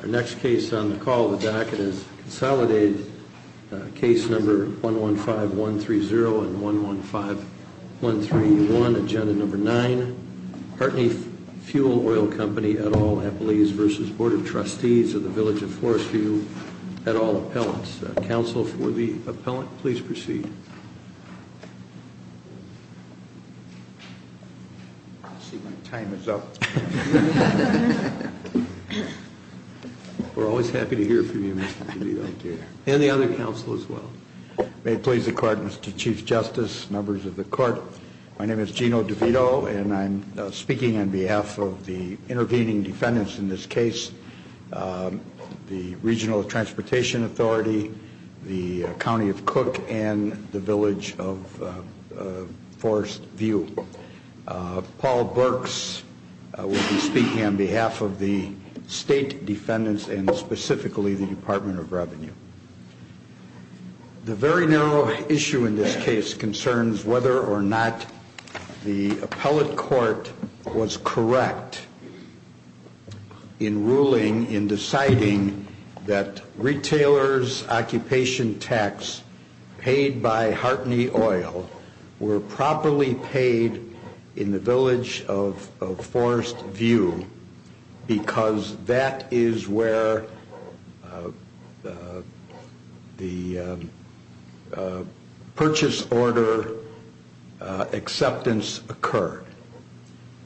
Our next case on the call of the DACA is Consolidated, Case Number 115-130 and 115-131, Agenda Number 9, Hartney Fuel Oil Company et al. Appellees v. Board of Trustees of the Village of Forest View et al. Appellants. Counsel for the Appellant, please proceed. I see my time is up. We're always happy to hear from you, Mr. DeVito. And the other counsel as well. May it please the Court, Mr. Chief Justice, members of the Court, my name is Gino DeVito, and I'm speaking on behalf of the intervening defendants in this case, the Regional Transportation Authority, the County of Cook and the Village of Forest View. Paul Burks will be speaking on behalf of the state defendants and specifically the Department of Revenue. The very narrow issue in this case concerns whether or not the appellate court was correct in ruling, in deciding that retailers' occupation tax paid by Hartney Oil were properly paid in the Village of Forest View because that is where the purchase order acceptance occurred.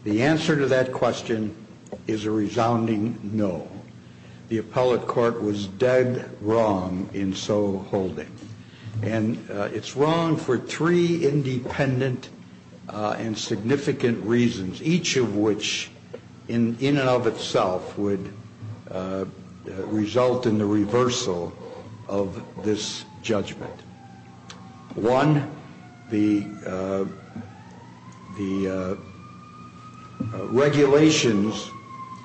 The answer to that question is a resounding no. The appellate court was dead wrong in so holding. And it's wrong for three independent and significant reasons, each of which in and of itself would result in the reversal of this judgment. One, the regulations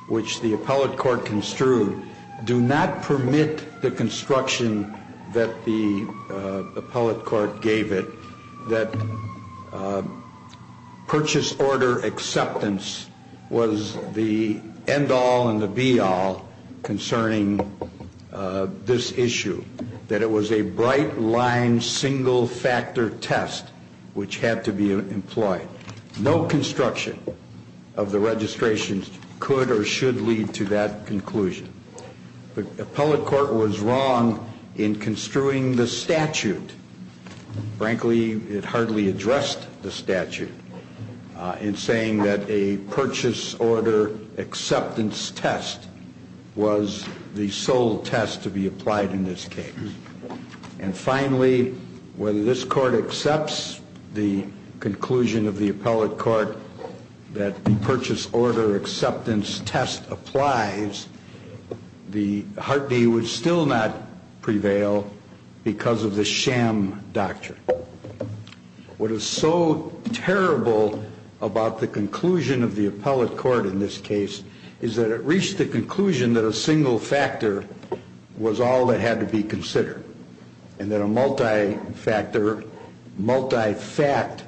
which the appellate court construed do not permit the construction that the appellate court gave it, that purchase order acceptance was the end-all and the be-all concerning this issue, that it was a bright-line single-factor test which had to be employed. No construction of the registrations could or should lead to that conclusion. The appellate court was wrong in construing the statute. Frankly, it hardly addressed the statute in saying that a purchase order acceptance test was the sole test to be applied in this case. And finally, whether this court accepts the conclusion of the appellate court that the purchase order acceptance test applies, the Hart v. would still not prevail because of the sham doctrine. What is so terrible about the conclusion of the appellate court in this case is that it reached the conclusion that a single factor was all that had to be considered and that a multi-factor, multi-fact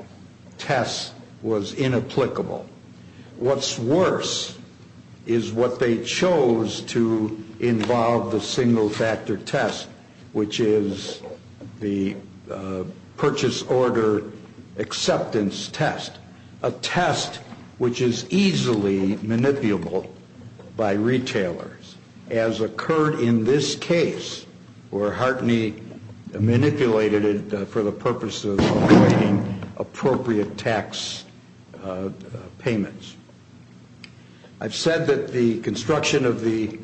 test was inapplicable. What's worse is what they chose to involve the single factor test, which is the purchase order acceptance test, a test which is easily manipulable by retailers, as occurred in this case where Hart v. manipulated it for the purpose of creating appropriate tax payments. I've said that the construction of the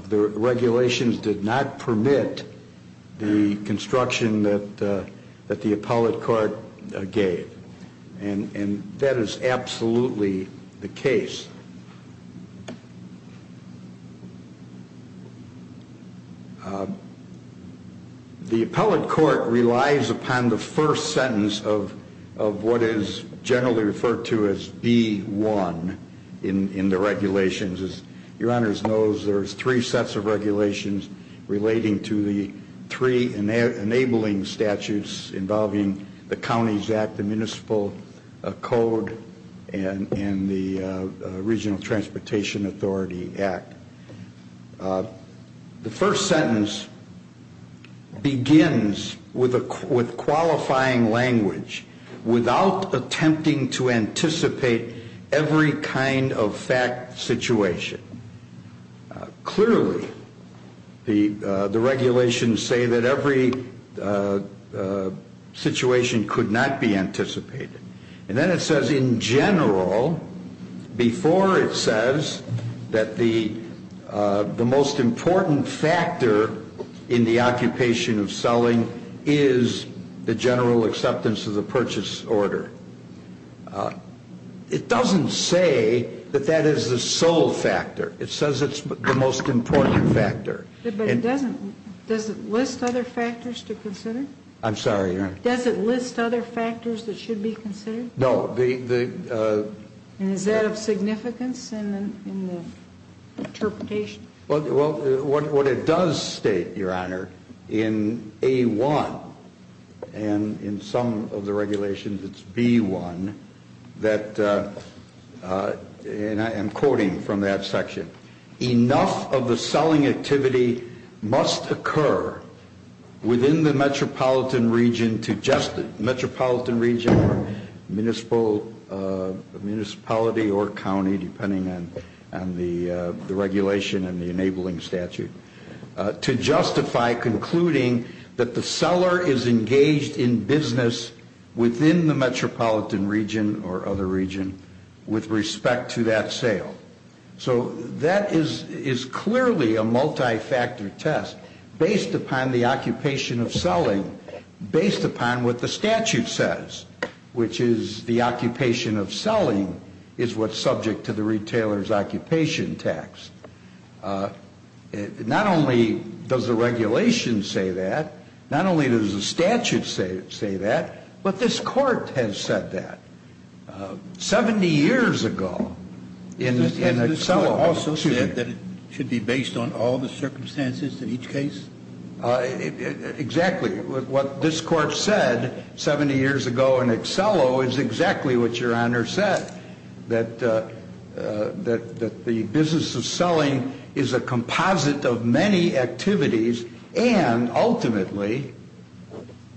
regulations did not permit the construction that the appellate court gave, and that is absolutely the case. The appellate court relies upon the first sentence of what is generally referred to as B1 in the regulations. As Your Honors knows, there are three sets of regulations relating to the three enabling statutes involving the Counties Act, the Municipal Code, and the Regional Transportation Authority Act. The first sentence begins with qualifying language without attempting to anticipate every kind of fact situation. Clearly, the regulations say that every situation could not be anticipated. And then it says in general, before it says that the most important factor in the occupation of selling is the general acceptance of the purchase order. It doesn't say that that is the sole factor. It says it's the most important factor. But it doesn't list other factors to consider? I'm sorry, Your Honor. Does it list other factors that should be considered? No. And is that of significance in the interpretation? Well, what it does state, Your Honor, in A1 and in some of the regulations, it's B1, that, and I am quoting from that section, enough of the selling activity must occur within the metropolitan region or municipality or county, depending on the regulation and the enabling statute, to justify concluding that the seller is engaged in business within the metropolitan region or other region with respect to that sale. So that is clearly a multi-factor test based upon the occupation of selling, based upon what the statute says, which is the occupation of selling is what's subject to the retailer's occupation tax. Not only does the regulation say that, not only does the statute say that, but this court has said that. Seventy years ago in Accello. Has this court also said that it should be based on all the circumstances in each case? Exactly. What this court said 70 years ago in Accello is exactly what Your Honor said, that the business of selling is a composite of many activities, and ultimately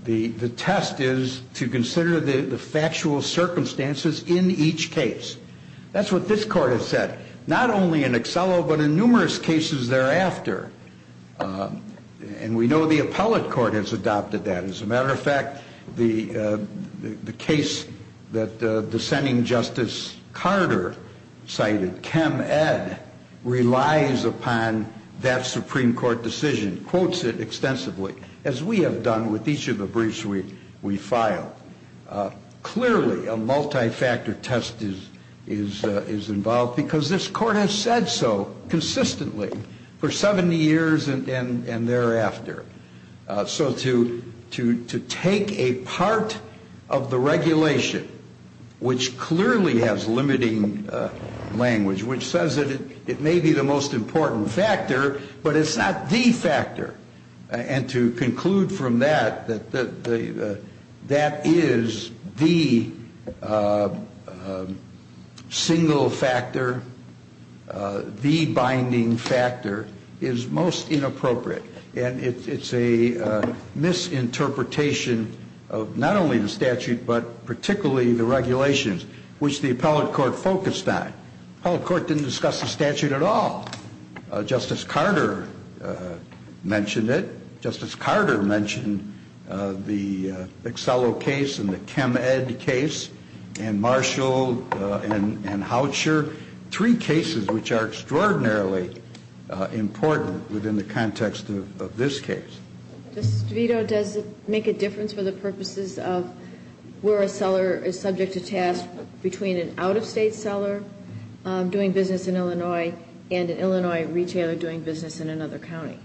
the test is to consider the factual circumstances in each case. That's what this court has said, not only in Accello, but in numerous cases thereafter. And we know the appellate court has adopted that. As a matter of fact, the case that dissenting Justice Carter cited, Chem Ed, relies upon that Supreme Court decision, quotes it extensively, as we have done with each of the briefs we file. Clearly a multi-factor test is involved because this court has said so consistently for 70 years and thereafter. So to take a part of the regulation, which clearly has limiting language, which says that it may be the most important factor, but it's not the factor, and to conclude from that that that is the single factor, the binding factor, is most inappropriate. And it's a misinterpretation of not only the statute, but particularly the regulations, which the appellate court focused on. The appellate court didn't discuss the statute at all. Justice Carter mentioned it. Justice Carter mentioned the Accello case and the Chem Ed case and Marshall and Houcher, three cases which are extraordinarily important within the context of this case. Justice DeVito, does it make a difference for the purposes of where a seller is subject to task between an out-of-state seller doing business in Illinois and an Illinois retailer doing business in another county?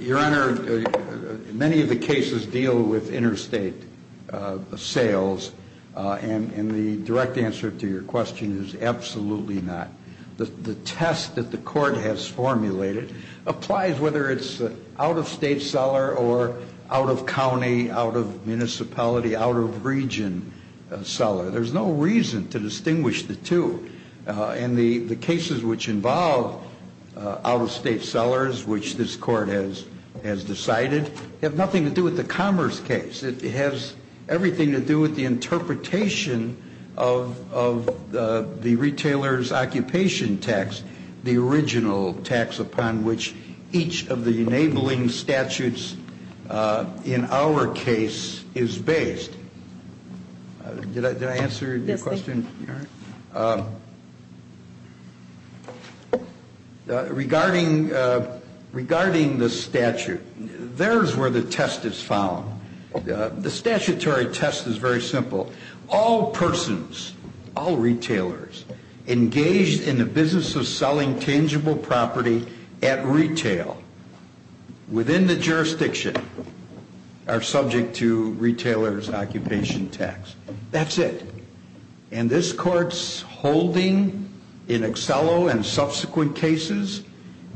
Your Honor, many of the cases deal with interstate sales. And the direct answer to your question is absolutely not. The test that the Court has formulated applies whether it's out-of-state seller or out-of-county, out-of-municipality, out-of-region seller. There's no reason to distinguish the two. And the cases which involve out-of-state sellers, which this Court has decided, have nothing to do with the Commerce case. It has everything to do with the interpretation of the retailer's occupation tax, the original tax upon which each of the enabling statutes in our case is based. Did I answer your question? Yes, thank you. Regarding the statute, there's where the test is found. The statutory test is very simple. All persons, all retailers engaged in the business of selling tangible property at retail within the jurisdiction are subject to retailer's occupation tax. That's it. And this Court's holding in Accello and subsequent cases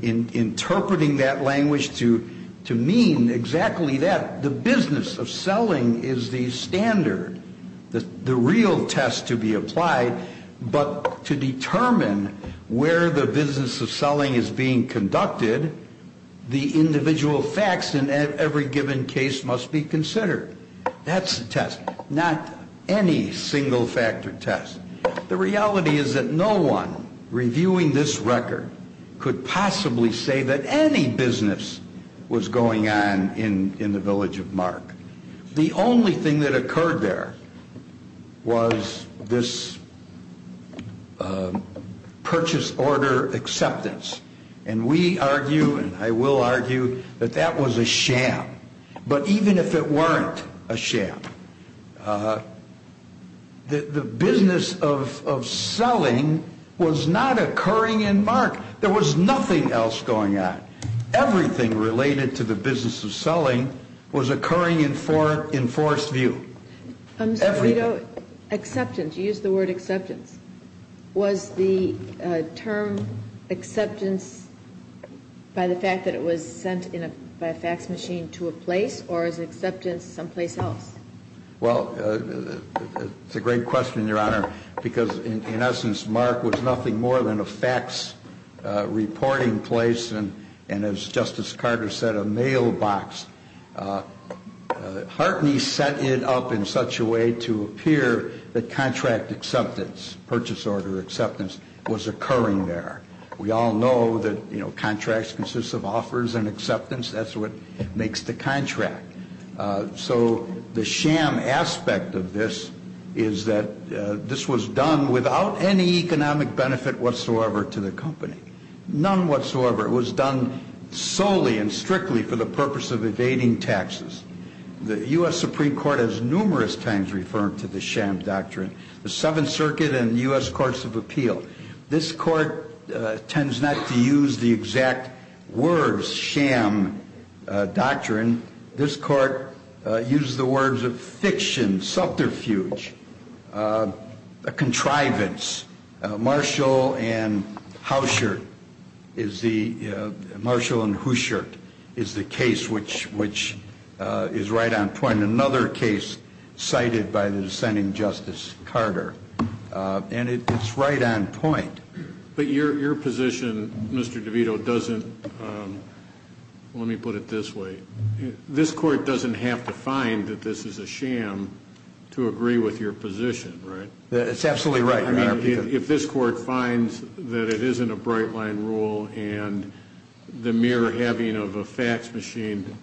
in interpreting that language to mean exactly that. The business of selling is the standard, the real test to be applied. But to determine where the business of selling is being conducted, the individual facts in every given case must be considered. That's the test. Not any single-factor test. The reality is that no one reviewing this record could possibly say that any business was going on in the village of Mark. The only thing that occurred there was this purchase order acceptance. And we argue, and I will argue, that that was a sham. But even if it weren't a sham, the business of selling was not occurring in Mark. There was nothing else going on. Everything related to the business of selling was occurring in Forest View. Everything. Acceptance. You used the word acceptance. Was the term acceptance by the fact that it was sent by a fax machine to a place, or is acceptance someplace else? Well, it's a great question, Your Honor, because in essence, Mark was nothing more than a fax reporting place and, as Justice Carter said, a mailbox. Hartney set it up in such a way to appear that contract acceptance, purchase order acceptance, was occurring there. We all know that, you know, contracts consist of offers and acceptance. That's what makes the contract. So the sham aspect of this is that this was done without any economic benefit whatsoever to the company. None whatsoever. It was done solely and strictly for the purpose of evading taxes. The U.S. Supreme Court has numerous times referred to the sham doctrine. The Seventh Circuit and U.S. Courts of Appeal. This court tends not to use the exact words sham doctrine. This court uses the words of fiction, subterfuge, contrivance. Marshall and Houcher, Marshall and Houcher is the case which is right on point. Another case cited by the dissenting Justice Carter. And it's right on point. But your position, Mr. DeVito, doesn't, let me put it this way, this court doesn't have to find that this is a sham to agree with your position, right? It's absolutely right, Your Honor. If this court finds that it isn't a bright line rule and the mere having of a fax machine,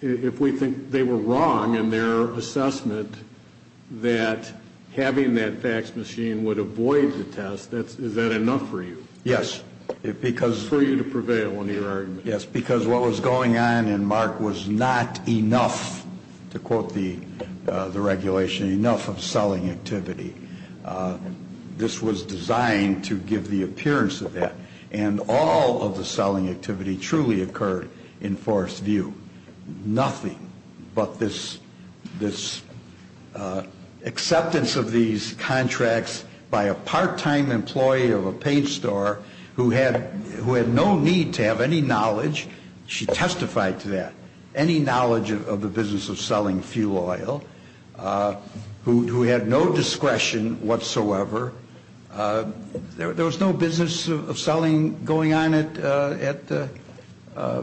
if we think they were wrong in their assessment that having that fax machine would avoid the test, is that enough for you? Yes. For you to prevail in your argument. Yes, because what was going on in MARC was not enough, to quote the regulation, enough of selling activity. This was designed to give the appearance of that. And all of the selling activity truly occurred in Forrest's view. Nothing but this acceptance of these contracts by a part-time employee of a paint store who had no need to have any knowledge, she testified to that, any knowledge of the business of selling fuel oil, who had no discretion whatsoever. There was no business of selling going on at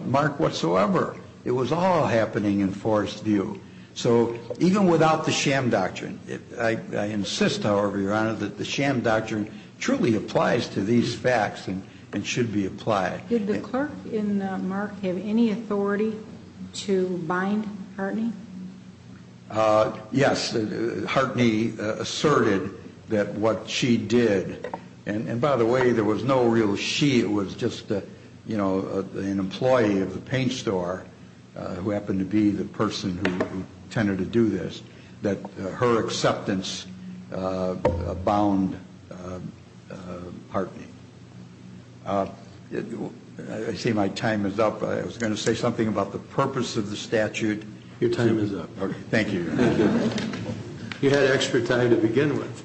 MARC whatsoever. It was all happening in Forrest's view. So even without the sham doctrine, I insist, however, Your Honor, that the sham doctrine truly applies to these facts and should be applied. Did the clerk in MARC have any authority to bind Hartney? Yes. Hartney asserted that what she did, and by the way, there was no real she, it was just, you know, an employee of the paint store who happened to be the person who tended to do this, that her acceptance bound Hartney. I see my time is up. I was going to say something about the purpose of the statute. Your time is up. Thank you, Your Honor. You had extra time to begin with.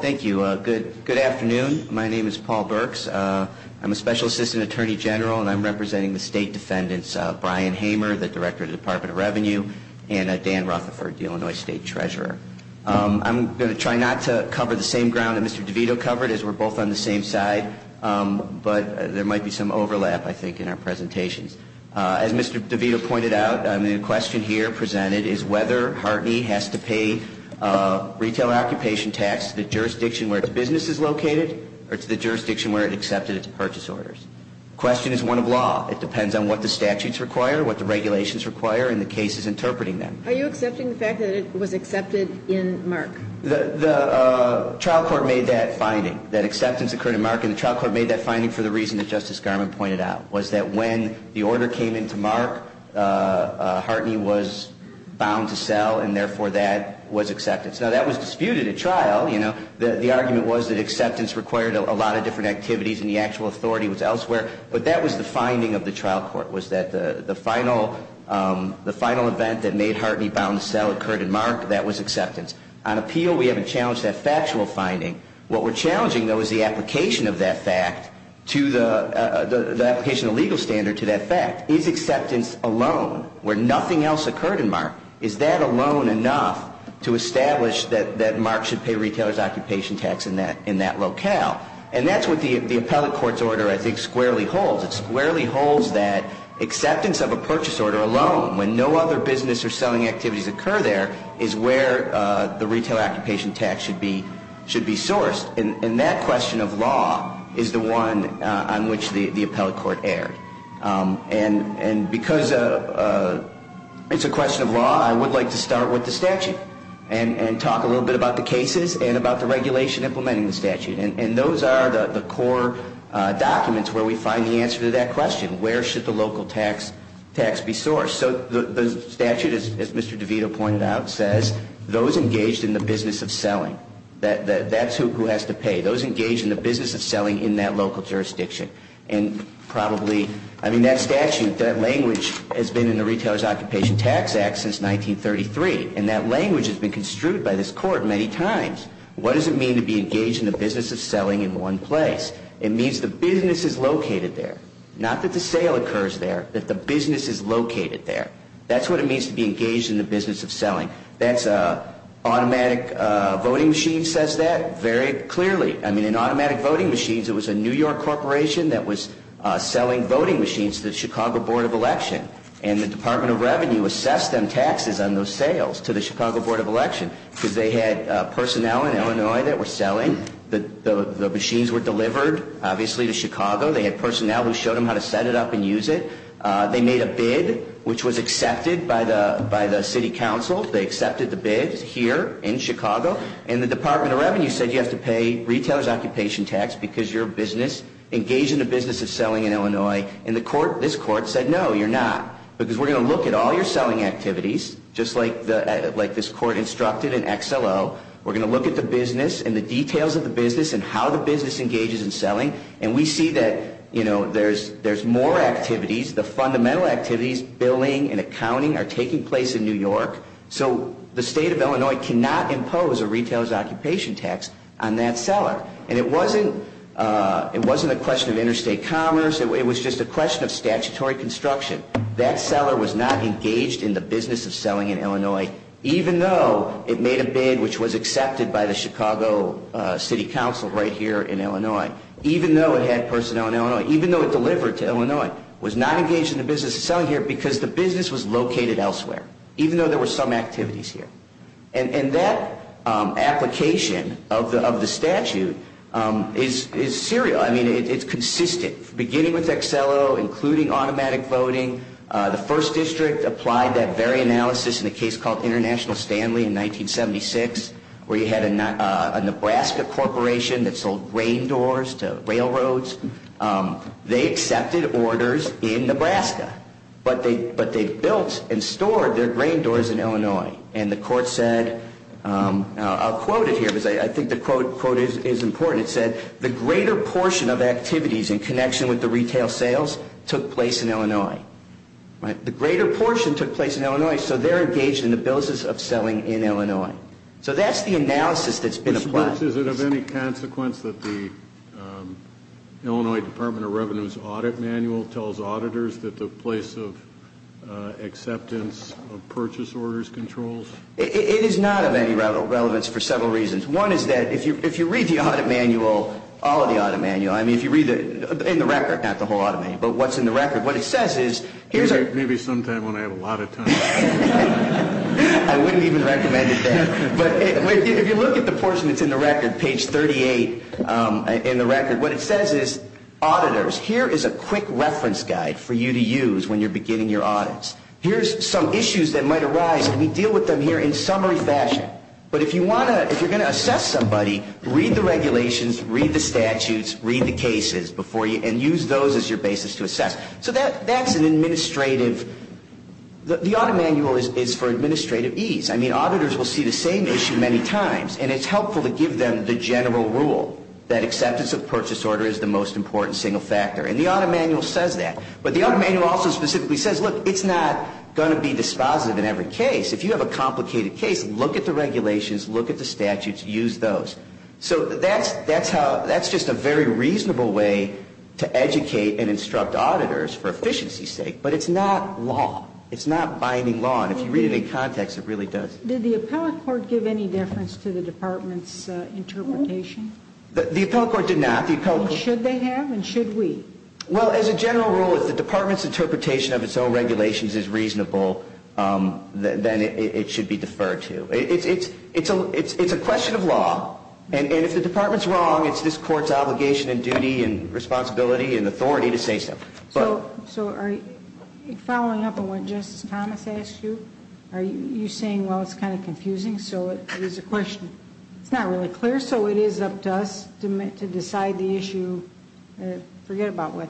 Thank you. Good afternoon. My name is Paul Burks. I'm a special assistant attorney general, and I'm representing the state defendants, Brian Hamer, the director of the Department of Revenue, and Dan Rutherford, the Illinois State Treasurer. I'm going to try not to cover the same ground that Mr. DeVito covered, as we're both on the same side, but there might be some overlap, I think, in our presentations. As Mr. DeVito pointed out, the question here presented is whether Hartney has to pay retail occupation tax to the jurisdiction where its business is located or to the jurisdiction where it accepted its purchase orders. The question is one of law. It depends on what the statutes require, what the regulations require, and the cases interpreting them. Are you accepting the fact that it was accepted in Mark? The trial court made that finding, that acceptance occurred in Mark, and the trial court made that finding for the reason that Justice Garland pointed out, was that when the order came into Mark, Hartney was bound to sell, and therefore that was acceptance. Now, that was disputed at trial. You know, the argument was that acceptance required a lot of different activities, and the actual authority was elsewhere. But that was the finding of the trial court, was that the final event that made Hartney bound to sell occurred in Mark. That was acceptance. On appeal, we haven't challenged that factual finding. What we're challenging, though, is the application of that fact to the application of the legal standard to that fact. Is acceptance alone where nothing else occurred in Mark? Is that alone enough to establish that Mark should pay retailers occupation tax in that locale? And that's what the appellate court's order, I think, squarely holds. It squarely holds that acceptance of a purchase order alone, when no other business or selling activities occur there, is where the retail occupation tax should be sourced. And that question of law is the one on which the appellate court erred. And because it's a question of law, I would like to start with the statute and talk a little bit about the cases and about the regulation implementing the statute. And those are the core documents where we find the answer to that question. Where should the local tax be sourced? So the statute, as Mr. DeVito pointed out, says those engaged in the business of selling. That's who has to pay. Those engaged in the business of selling in that local jurisdiction. And probably, I mean, that statute, that language has been in the Retailers Occupation Tax Act since 1933. And that language has been construed by this court many times. What does it mean to be engaged in the business of selling in one place? It means the business is located there. Not that the sale occurs there, that the business is located there. That's what it means to be engaged in the business of selling. Automatic voting machines says that very clearly. I mean, in automatic voting machines, it was a New York corporation that was selling voting machines to the Chicago Board of Election. And the Department of Revenue assessed them taxes on those sales to the Chicago Board of Election because they had personnel in Illinois that were selling. The machines were delivered, obviously, to Chicago. They had personnel who showed them how to set it up and use it. They made a bid, which was accepted by the city council. They accepted the bid here in Chicago. And the Department of Revenue said you have to pay Retailers Occupation Tax because you're engaged in the business of selling in Illinois. And this court said, no, you're not, because we're going to look at all your selling activities, just like this court instructed in XLO. We're going to look at the business and the details of the business and how the business engages in selling. And we see that there's more activities. The fundamental activities, billing and accounting, are taking place in New York. So the state of Illinois cannot impose a Retailers Occupation Tax on that seller. And it wasn't a question of interstate commerce. It was just a question of statutory construction. That seller was not engaged in the business of selling in Illinois, even though it made a bid, which was accepted by the Chicago City Council right here in Illinois, even though it had personnel in Illinois, even though it delivered to Illinois. It was not engaged in the business of selling here because the business was located elsewhere, even though there were some activities here. And that application of the statute is serial. I mean, it's consistent, beginning with XLO, including automatic voting. The First District applied that very analysis in a case called International Stanley in 1976, where you had a Nebraska corporation that sold grain doors to railroads. They accepted orders in Nebraska, but they built and stored their grain doors in Illinois. And the court said, I'll quote it here because I think the quote is important. It said, the greater portion of activities in connection with the retail sales took place in Illinois. The greater portion took place in Illinois, so they're engaged in the business of selling in Illinois. So that's the analysis that's been applied. Mr. Brooks, is it of any consequence that the Illinois Department of Revenue's audit manual tells auditors that the place of acceptance of purchase orders controls? It is not of any relevance for several reasons. One is that if you read the audit manual, all of the audit manual, I mean, if you read it in the record, not the whole audit manual, but what's in the record, what it says is here's a- Maybe sometime when I have a lot of time. I wouldn't even recommend it then. But if you look at the portion that's in the record, page 38 in the record, what it says is auditors, here is a quick reference guide for you to use when you're beginning your audits. Here's some issues that might arise, and we deal with them here in summary fashion. But if you want to, if you're going to assess somebody, read the regulations, read the statutes, read the cases before you, and use those as your basis to assess. So that's an administrative, the audit manual is for administrative ease. I mean, auditors will see the same issue many times, and it's helpful to give them the general rule that acceptance of purchase order is the most important single factor, and the audit manual says that. But the audit manual also specifically says, look, it's not going to be dispositive in every case. If you have a complicated case, look at the regulations, look at the statutes, use those. So that's just a very reasonable way to educate and instruct auditors for efficiency's sake. But it's not law. It's not binding law. And if you read it in context, it really does. Did the appellate court give any difference to the department's interpretation? The appellate court did not. Should they have, and should we? Well, as a general rule, if the department's interpretation of its own regulations is reasonable, then it should be deferred to. It's a question of law. And if the department's wrong, it's this court's obligation and duty and responsibility and authority to say so. So following up on what Justice Thomas asked you, are you saying, well, it's kind of confusing, so it is a question. It's not really clear, so it is up to us to decide the issue. Forget about what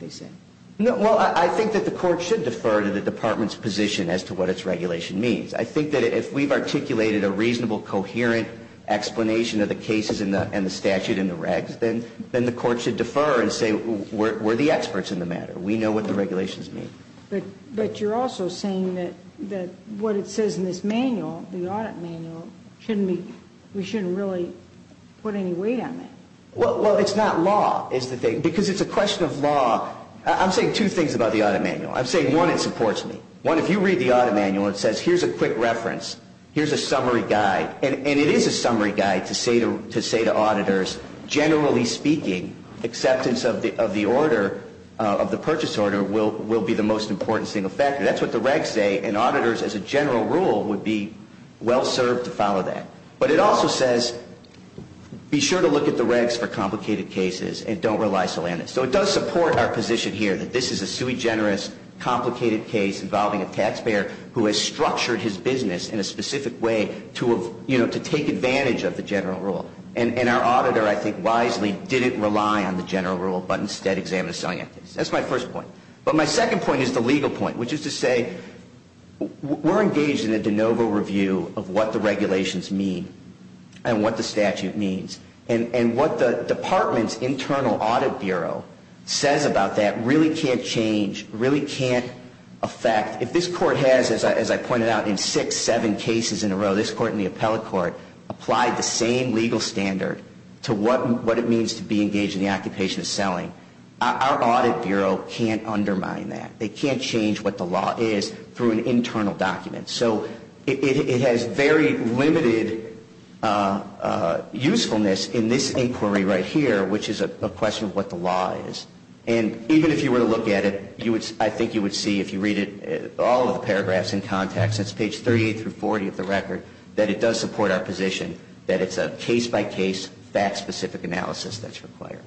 they said. Well, I think that the court should defer to the department's position as to what its regulation means. I think that if we've articulated a reasonable, coherent explanation of the cases and the statute and the regs, then the court should defer and say, we're the experts in the matter. We know what the regulations mean. But you're also saying that what it says in this manual, the audit manual, we shouldn't really put any weight on that. Well, it's not law is the thing. Because it's a question of law. I'm saying two things about the audit manual. I'm saying, one, it supports me. One, if you read the audit manual, it says, here's a quick reference, here's a summary guide. And it is a summary guide to say to auditors, generally speaking, acceptance of the order, of the purchase order, will be the most important single factor. That's what the regs say. And auditors, as a general rule, would be well-served to follow that. But it also says, be sure to look at the regs for complicated cases and don't rely solely on it. So it does support our position here that this is a sui generis, complicated case involving a taxpayer who has structured his business in a specific way to take advantage of the general rule. And our auditor, I think, wisely didn't rely on the general rule, but instead examined a selling act. That's my first point. But my second point is the legal point, which is to say, we're engaged in a de novo review of what the regulations mean and what the statute means. And what the department's internal audit bureau says about that really can't change, really can't affect. If this court has, as I pointed out, in six, seven cases in a row, this court and the appellate court, applied the same legal standard to what it means to be engaged in the occupation of selling, our audit bureau can't undermine that. They can't change what the law is through an internal document. So it has very limited usefulness in this inquiry right here, which is a question of what the law is. And even if you were to look at it, I think you would see if you read all of the paragraphs in context, that's page 38 through 40 of the record, that it does support our position that it's a case-by-case, fact-specific analysis that's required.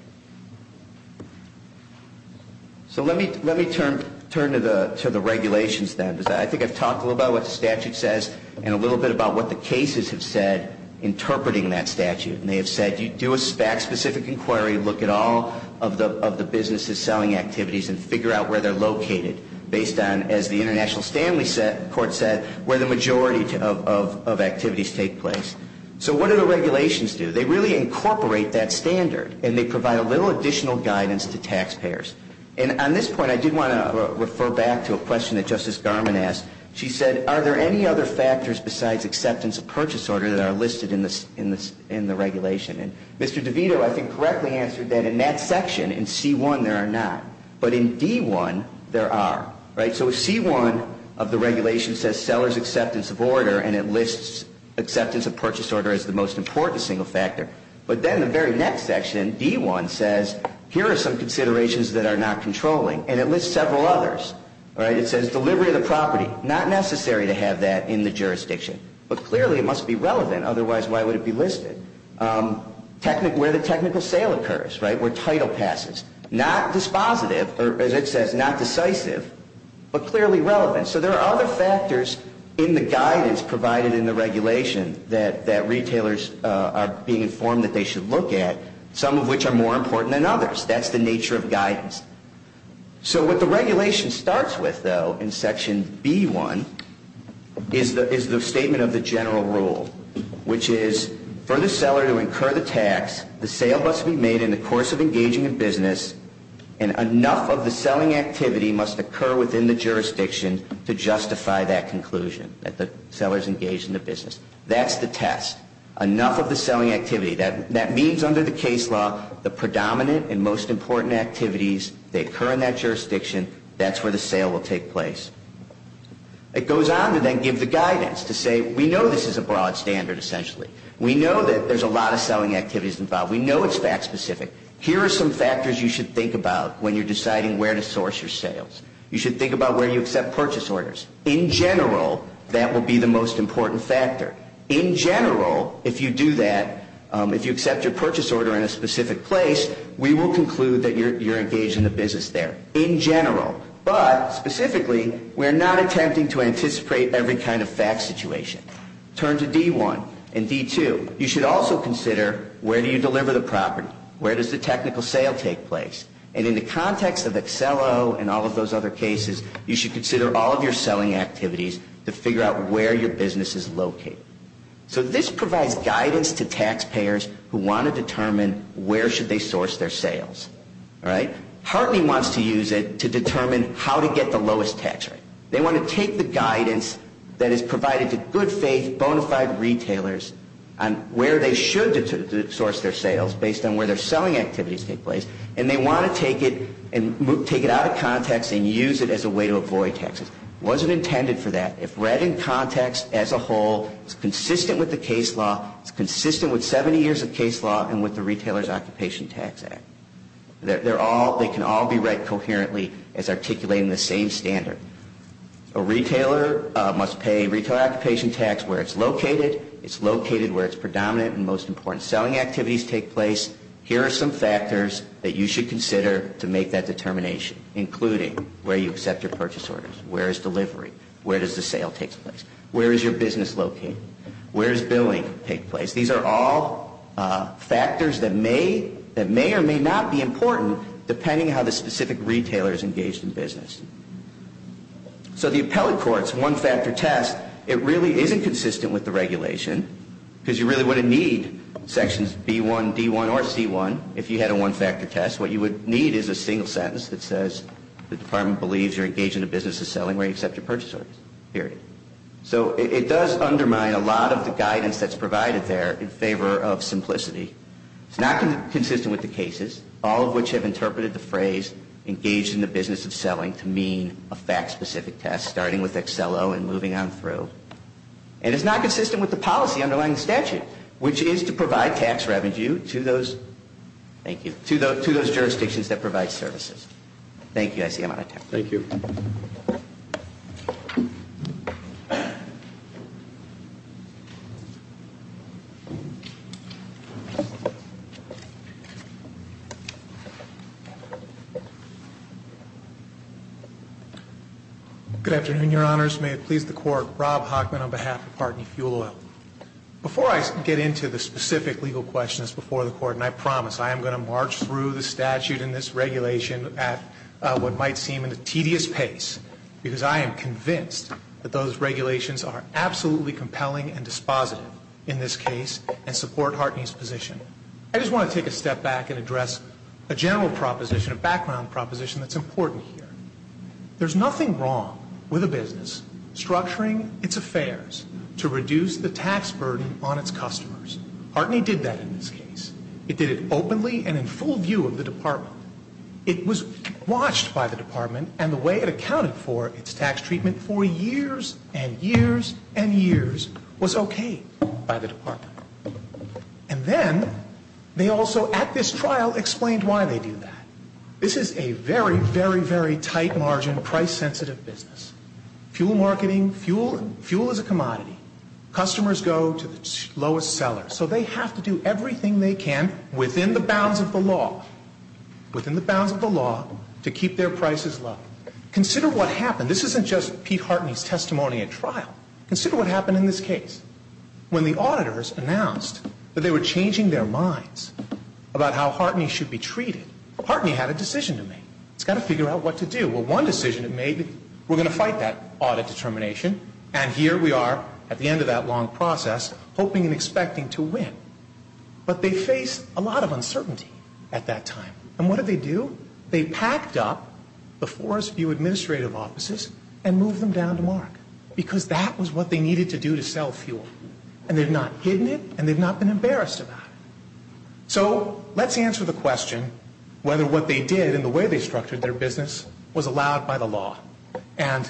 So let me turn to the regulations then. I think I've talked a little about what the statute says and a little bit about what the cases have said interpreting that statute. And they have said, you do a fact-specific inquiry, look at all of the businesses selling activities and figure out where they're located based on, as the International Stanley Court said, where the majority of activities take place. So what do the regulations do? They really incorporate that standard, and they provide a little additional guidance to taxpayers. And on this point, I did want to refer back to a question that Justice Garmon asked. She said, are there any other factors besides acceptance of purchase order that are listed in the regulation? And Mr. DeVito, I think, correctly answered that in that section, in C1, there are not. But in D1, there are. So C1 of the regulation says seller's acceptance of order, and it lists acceptance of purchase order as the most important single factor. But then the very next section, D1, says here are some considerations that are not controlling, and it lists several others. It says delivery of the property, not necessary to have that in the jurisdiction. But clearly, it must be relevant. Otherwise, why would it be listed? Where the technical sale occurs, where title passes, not dispositive, or as it says, not decisive, but clearly relevant. So there are other factors in the guidance provided in the regulation that retailers are being informed that they should look at, some of which are more important than others. That's the nature of guidance. So what the regulation starts with, though, in Section B1, is the statement of the general rule, which is for the seller to incur the tax, the sale must be made in the course of engaging in business, and enough of the selling activity must occur within the jurisdiction to justify that conclusion, that the seller's engaged in the business. That's the test. Enough of the selling activity. That means under the case law, the predominant and most important activities, they occur in that jurisdiction. That's where the sale will take place. It goes on to then give the guidance to say we know this is a broad standard, essentially. We know that there's a lot of selling activities involved. We know it's fact-specific. Here are some factors you should think about when you're deciding where to source your sales. You should think about where you accept purchase orders. In general, that will be the most important factor. In general, if you do that, if you accept your purchase order in a specific place, we will conclude that you're engaged in the business there, in general. But specifically, we're not attempting to anticipate every kind of fact situation. Turn to D1 and D2. You should also consider where do you deliver the property? Where does the technical sale take place? And in the context of Accelo and all of those other cases, you should consider all of your selling activities to figure out where your business is located. So this provides guidance to taxpayers who want to determine where should they source their sales. Hartley wants to use it to determine how to get the lowest tax rate. They want to take the guidance that is provided to good-faith, bona fide retailers on where they should source their sales based on where their selling activities take place, and they want to take it out of context and use it as a way to avoid taxes. It wasn't intended for that. If read in context as a whole, it's consistent with the case law. It's consistent with 70 years of case law and with the Retailer's Occupation Tax Act. They can all be read coherently as articulating the same standard. A retailer must pay Retailer Occupation Tax where it's located. It's located where its predominant and most important selling activities take place. Here are some factors that you should consider to make that determination, including where you accept your purchase orders, where is delivery, where does the sale take place, where is your business located, where does billing take place. These are all factors that may or may not be important, depending on how the specific retailer is engaged in business. So the appellate court's one-factor test, it really isn't consistent with the regulation because you really wouldn't need sections B1, D1, or C1 if you had a one-factor test. What you would need is a single sentence that says, the department believes you're engaged in a business of selling where you accept your purchase orders, period. So it does undermine a lot of the guidance that's provided there in favor of simplicity. It's not consistent with the cases, all of which have interpreted the phrase engaged in the business of selling to mean a fact-specific test, starting with Excello and moving on through. And it's not consistent with the policy underlying the statute, which is to provide tax revenue to those jurisdictions that provide services. Thank you. I see I'm out of time. Thank you. Good afternoon, Your Honors. May it please the Court. Rob Hockman on behalf of Partney Fuel Oil. Before I get into the specific legal questions before the Court, and I promise I am going to march through the statute and this regulation at what might seem a tedious pace, because I am convinced that those regulations are absolutely compelling and dispositive in this case and support Partney's position. I just want to take a step back and address a general proposition, a background proposition that's important here. There's nothing wrong with a business structuring its affairs to reduce the tax burden on its customers. Partney did that in this case. It did it openly and in full view of the department. It was watched by the department, and the way it accounted for its tax treatment for years and years and years was okay by the department. And then they also at this trial explained why they do that. This is a very, very, very tight margin, price-sensitive business. Fuel marketing, fuel is a commodity. Customers go to the lowest seller. So they have to do everything they can within the bounds of the law. Within the bounds of the law to keep their prices low. Consider what happened. This isn't just Pete Hartney's testimony at trial. Consider what happened in this case. When the auditors announced that they were changing their minds about how Hartney should be treated, Partney had a decision to make. It's got to figure out what to do. Well, one decision it made, we're going to fight that audit determination, and here we are at the end of that long process hoping and expecting to win. But they faced a lot of uncertainty at that time. And what did they do? They packed up the Forest View administrative offices and moved them down to Mark because that was what they needed to do to sell fuel. And they've not hidden it, and they've not been embarrassed about it. So let's answer the question whether what they did and the way they structured their business was allowed by the law. And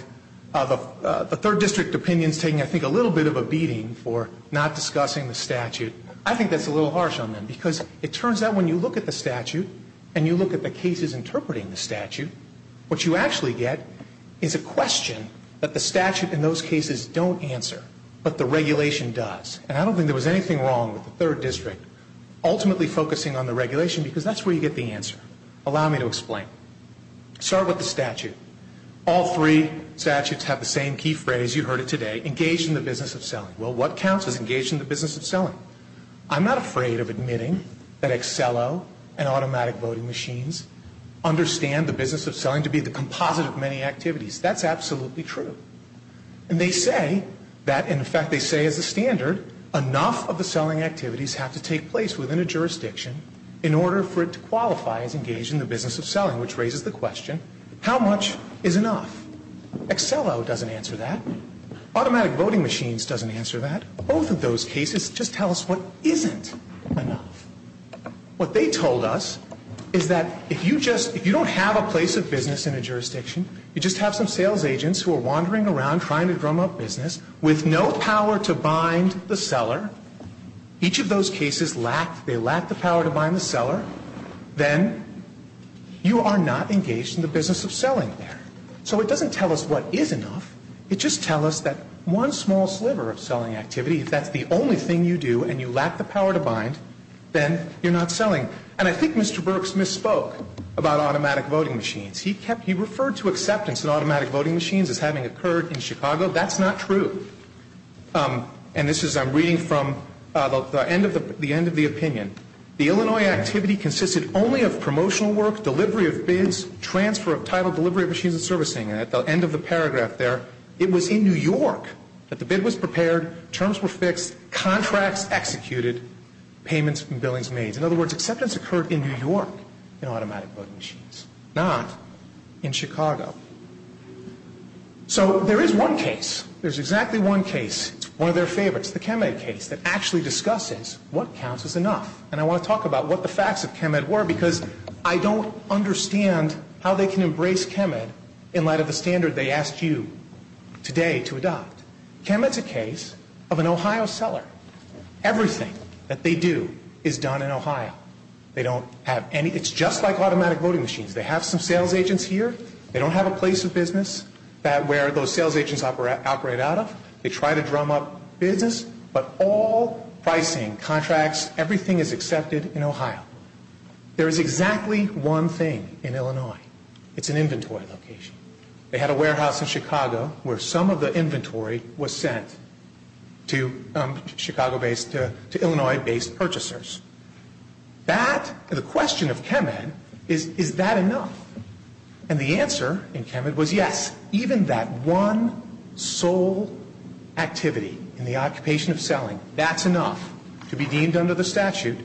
the third district opinion is taking, I think, a little bit of a beating for not discussing the statute. I think that's a little harsh on them because it turns out when you look at the statute and you look at the cases interpreting the statute, what you actually get is a question that the statute in those cases don't answer but the regulation does. And I don't think there was anything wrong with the third district ultimately focusing on the regulation because that's where you get the answer. Allow me to explain. Start with the statute. All three statutes have the same key phrase. You heard it today, engage in the business of selling. Well, what counts as engage in the business of selling? I'm not afraid of admitting that Excello and automatic voting machines understand the business of selling to be the composite of many activities. That's absolutely true. And they say that, in fact, they say as a standard, enough of the selling activities have to take place within a jurisdiction in order for it to qualify as engage in the business of selling, which raises the question, how much is enough? Excello doesn't answer that. Automatic voting machines doesn't answer that. Both of those cases just tell us what isn't enough. What they told us is that if you just, if you don't have a place of business in a jurisdiction, you just have some sales agents who are wandering around trying to drum up business with no power to bind the seller, each of those cases lack, they lack the power to bind the seller, then you are not engaged in the business of selling there. So it doesn't tell us what is enough. It just tells us that one small sliver of selling activity, if that's the only thing you do and you lack the power to bind, then you're not selling. And I think Mr. Burks misspoke about automatic voting machines. He referred to acceptance in automatic voting machines as having occurred in Chicago. That's not true. And this is, I'm reading from the end of the opinion. The Illinois activity consisted only of promotional work, delivery of bids, transfer of title, delivery of machines and servicing. And at the end of the paragraph there, it was in New York that the bid was prepared, terms were fixed, contracts executed, payments and billings made. In other words, acceptance occurred in New York in automatic voting machines, not in Chicago. So there is one case. There's exactly one case. It's one of their favorites, the ChemEd case that actually discusses what counts as enough. And I want to talk about what the facts of ChemEd were because I don't understand how they can embrace ChemEd in light of the standard they asked you today to adopt. ChemEd is a case of an Ohio seller. Everything that they do is done in Ohio. They don't have any, it's just like automatic voting machines. They have some sales agents here. They don't have a place of business where those sales agents operate out of. They try to drum up business, but all pricing, contracts, everything is accepted in Ohio. There is exactly one thing in Illinois. It's an inventory location. They had a warehouse in Chicago where some of the inventory was sent to Chicago-based, to Illinois-based purchasers. That, the question of ChemEd is, is that enough? And the answer in ChemEd was yes. Even that one sole activity in the occupation of selling, that's enough to be deemed under the statute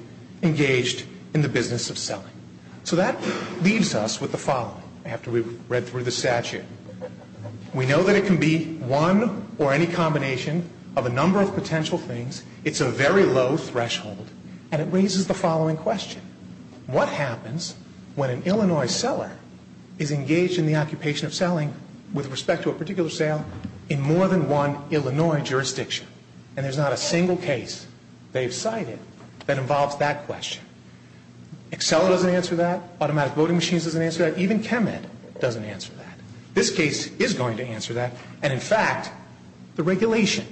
engaged in the business of selling. So that leaves us with the following after we've read through the statute. We know that it can be one or any combination of a number of potential things. It's a very low threshold, and it raises the following question. What happens when an Illinois seller is engaged in the occupation of selling with respect to a particular sale in more than one Illinois jurisdiction? And there's not a single case they've cited that involves that question. Excel doesn't answer that. Automatic voting machines doesn't answer that. Even ChemEd doesn't answer that. This case is going to answer that. And, in fact, the regulation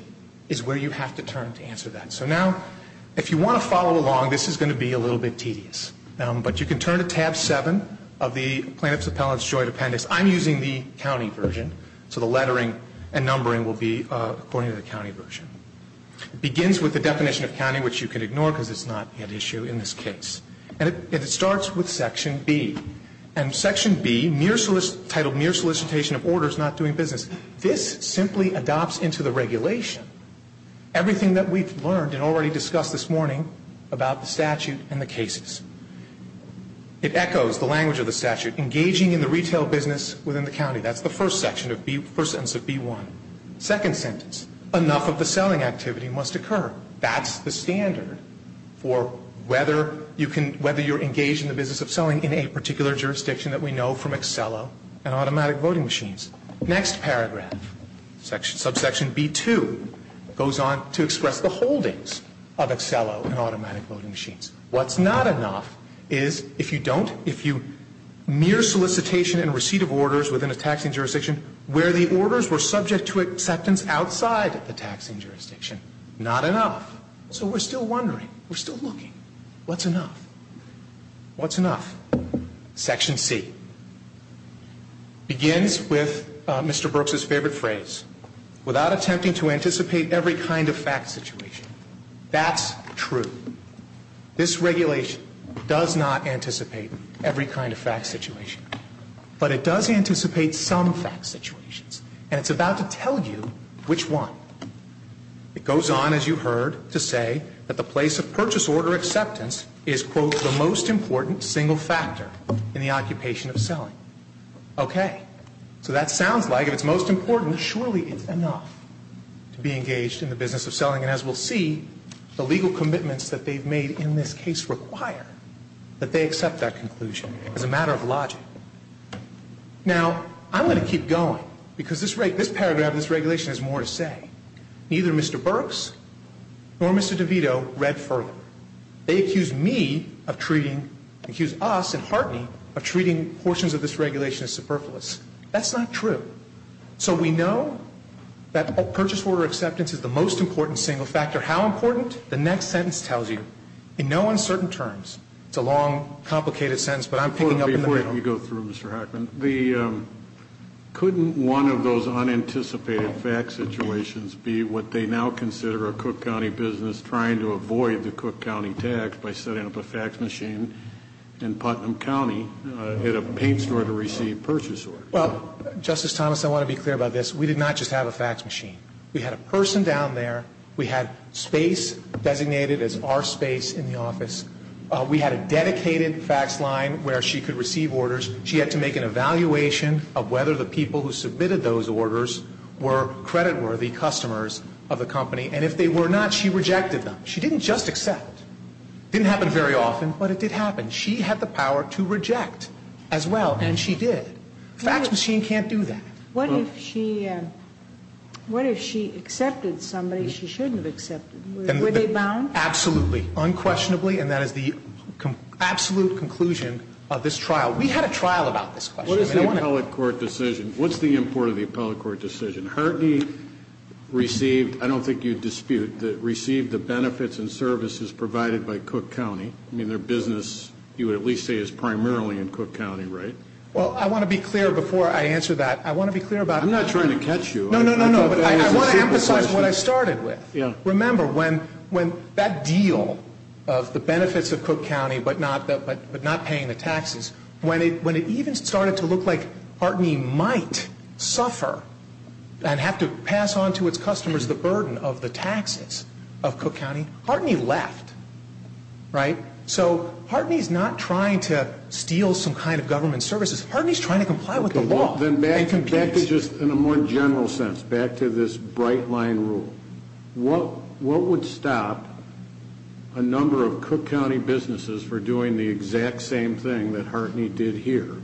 is where you have to turn to answer that. So now, if you want to follow along, this is going to be a little bit tedious. But you can turn to Tab 7 of the Plaintiff's Appellant's Joint Appendix. I'm using the county version, so the lettering and numbering will be according to the county version. It begins with the definition of county, which you can ignore because it's not an issue in this case. And it starts with Section B. And Section B, titled mere solicitation of orders not doing business, this simply adopts into the regulation everything that we've learned and already discussed this morning about the statute and the cases. It echoes the language of the statute, engaging in the retail business within the county. That's the first sentence of B1. Second sentence, enough of the selling activity must occur. That's the standard for whether you're engaged in the business of selling in a particular jurisdiction that we know from Accello and automatic voting machines. Next paragraph, subsection B2, goes on to express the holdings of Accello and automatic voting machines. What's not enough is if you don't, if you mere solicitation and receipt of orders within a taxing jurisdiction where the orders were subject to acceptance outside the taxing jurisdiction. Not enough. So we're still wondering. We're still looking. What's enough? What's enough? Section C begins with Mr. Brooks's favorite phrase, without attempting to anticipate every kind of fact situation. That's true. This regulation does not anticipate every kind of fact situation. But it does anticipate some fact situations. And it's about to tell you which one. It goes on, as you heard, to say that the place of purchase order acceptance is, quote, the most important single factor in the occupation of selling. Okay. So that sounds like if it's most important, surely it's enough to be engaged in the business of selling. And as we'll see, the legal commitments that they've made in this case require that they accept that conclusion. It's a matter of logic. Now, I'm going to keep going, because this paragraph in this regulation has more to say. Neither Mr. Brooks nor Mr. DeVito read further. They accused me of treating, accused us and Hartney of treating portions of this regulation as superfluous. That's not true. So we know that purchase order acceptance is the most important single factor. How important? The next sentence tells you. In no uncertain terms. It's a long, complicated sentence, but I'm picking up in the middle. Before you go through, Mr. Hockman, couldn't one of those unanticipated fact situations be what they now consider a Cook County business trying to avoid the Cook County tax by setting up a fax machine in Putnam County at a paint store to receive purchase orders? Well, Justice Thomas, I want to be clear about this. We did not just have a fax machine. We had a person down there. We had space designated as our space in the office. We had a dedicated fax line where she could receive orders. She had to make an evaluation of whether the people who submitted those orders were creditworthy customers of the company. And if they were not, she rejected them. She didn't just accept. It didn't happen very often, but it did happen. She had the power to reject as well, and she did. A fax machine can't do that. What if she accepted somebody she shouldn't have accepted? Were they bound? Absolutely. Unquestionably, and that is the absolute conclusion of this trial. We had a trial about this question. What is the appellate court decision? What's the import of the appellate court decision? Hartney received, I don't think you'd dispute, received the benefits and services provided by Cook County. I mean, their business, you would at least say, is primarily in Cook County, right? Well, I want to be clear before I answer that. I want to be clear about it. I'm not trying to catch you. No, no, no, no. I want to emphasize what I started with. Yeah. Remember, when that deal of the benefits of Cook County but not paying the taxes, when it even started to look like Hartney might suffer and have to pass on to its customers the burden of the taxes of Cook County, Hartney left, right? So Hartney's not trying to steal some kind of government services. Hartney's trying to comply with the law. Well, then back to just in a more general sense, back to this bright line rule. What would stop a number of Cook County businesses from doing the exact same thing that Hartney did here,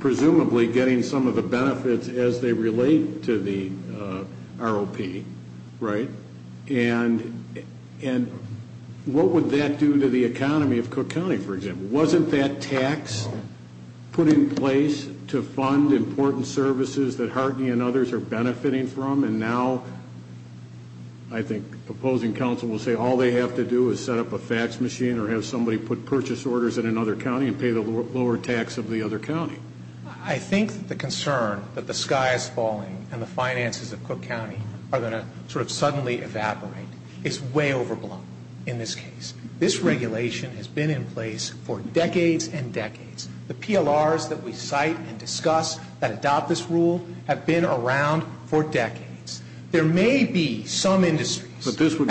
presumably getting some of the benefits as they relate to the ROP, right? And what would that do to the economy of Cook County, for example? Wasn't that tax put in place to fund important services that Hartney and others are benefiting from? And now I think the opposing counsel will say all they have to do is set up a fax machine or have somebody put purchase orders in another county and pay the lower tax of the other county. I think the concern that the sky is falling and the finances of Cook County are going to sort of suddenly evaporate is way overblown in this case. This regulation has been in place for decades and decades. The PLRs that we cite and discuss that adopt this rule have been around for decades. There may be some industries. But this would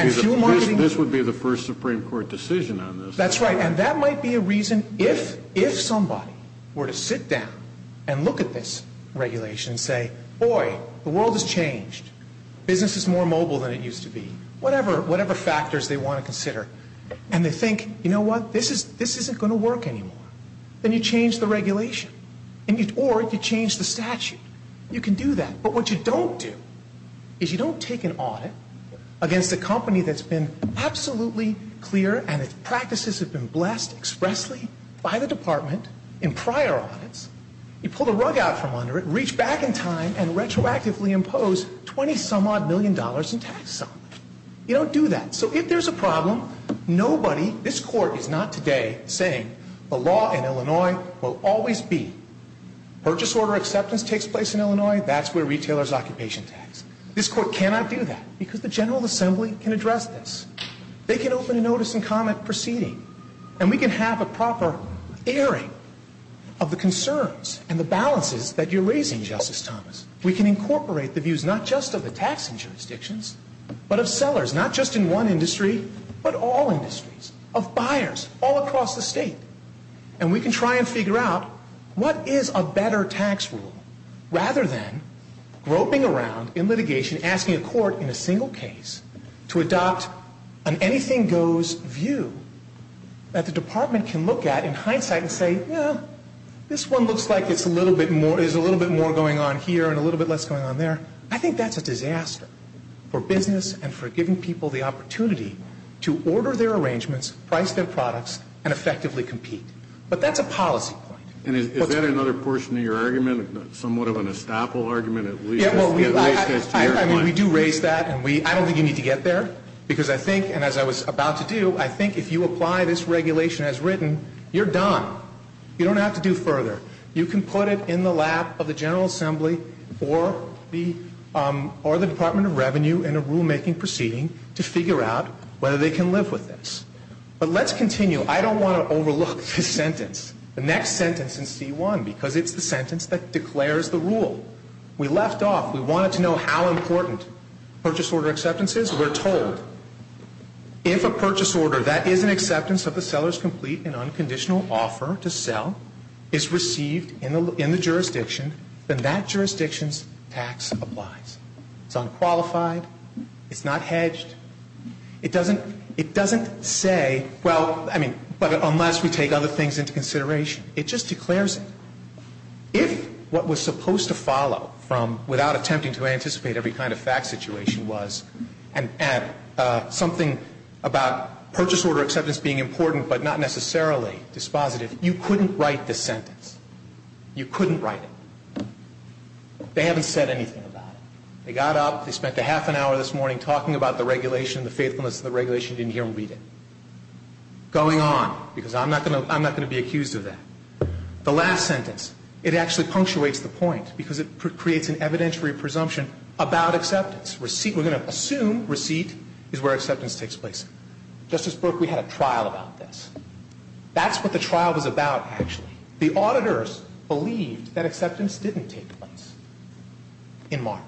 be the first Supreme Court decision on this. That's right, and that might be a reason if somebody were to sit down and look at this regulation and say, boy, the world has changed. Business is more mobile than it used to be. Whatever factors they want to consider. And they think, you know what, this isn't going to work anymore. Then you change the regulation. Or you change the statute. You can do that. But what you don't do is you don't take an audit against a company that's been absolutely clear and its practices have been blessed expressly by the department in prior audits. You pull the rug out from under it, reach back in time, and retroactively impose $20-some-odd million in tax sum. You don't do that. So if there's a problem, nobody, this Court is not today saying the law in Illinois will always be purchase order acceptance takes place in Illinois. That's where retailers' occupation tax. This Court cannot do that because the General Assembly can address this. They can open a notice and comment proceeding. And we can have a proper airing of the concerns and the balances that you're raising, Justice Thomas. We can incorporate the views not just of the taxing jurisdictions, but of sellers, not just in one industry, but all industries. Of buyers all across the state. And we can try and figure out what is a better tax rule rather than groping around in litigation, asking a court in a single case to adopt an anything-goes view that the department can look at in hindsight and say, yeah, this one looks like there's a little bit more going on here and a little bit less going on there. I think that's a disaster for business and for giving people the opportunity to order their arrangements, price their products, and effectively compete. But that's a policy point. And is that another portion of your argument? Somewhat of an estoppel argument at least? I mean, we do raise that. And I don't think you need to get there. Because I think, and as I was about to do, I think if you apply this regulation as written, you're done. You don't have to do further. You can put it in the lap of the General Assembly or the Department of Revenue in a rulemaking proceeding to figure out whether they can live with this. But let's continue. I don't want to overlook this sentence, the next sentence in C-1, because it's the sentence that declares the rule. We left off. We wanted to know how important purchase order acceptance is. We're told if a purchase order that is an acceptance of the seller's complete and unconditional offer to sell is received in the jurisdiction, then that jurisdiction's tax applies. It's unqualified. It's not hedged. It doesn't say, well, I mean, unless we take other things into consideration. It just declares it. If what was supposed to follow from without attempting to anticipate every kind of fact situation was something about purchase order acceptance being important but not necessarily dispositive, you couldn't write this sentence. You couldn't write it. They haven't said anything about it. They got up. They spent a half an hour this morning talking about the regulation, the faithfulness of the regulation. You didn't hear them read it. Going on, because I'm not going to be accused of that. The last sentence, it actually punctuates the point because it creates an evidentiary presumption about acceptance. Receipt, we're going to assume receipt is where acceptance takes place. Justice Burke, we had a trial about this. That's what the trial was about, actually. The auditors believed that acceptance didn't take place in Martin.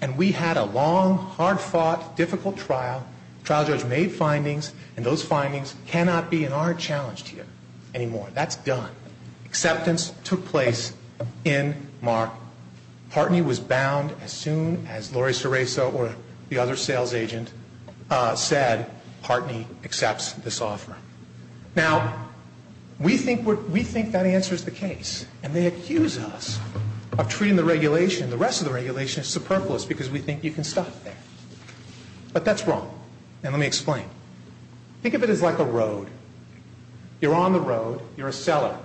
And we had a long, hard-fought, difficult trial. The trial judge made findings, and those findings cannot be in our challenge here anymore. That's done. Acceptance took place in Mark. Partney was bound as soon as Lori Seraiso or the other sales agent said Partney accepts this offer. Now, we think that answers the case, and they accuse us of treating the regulation, the rest of the regulation, as superfluous because we think you can stop there. But that's wrong, and let me explain. Think of it as like a road. You're on the road. You're a seller.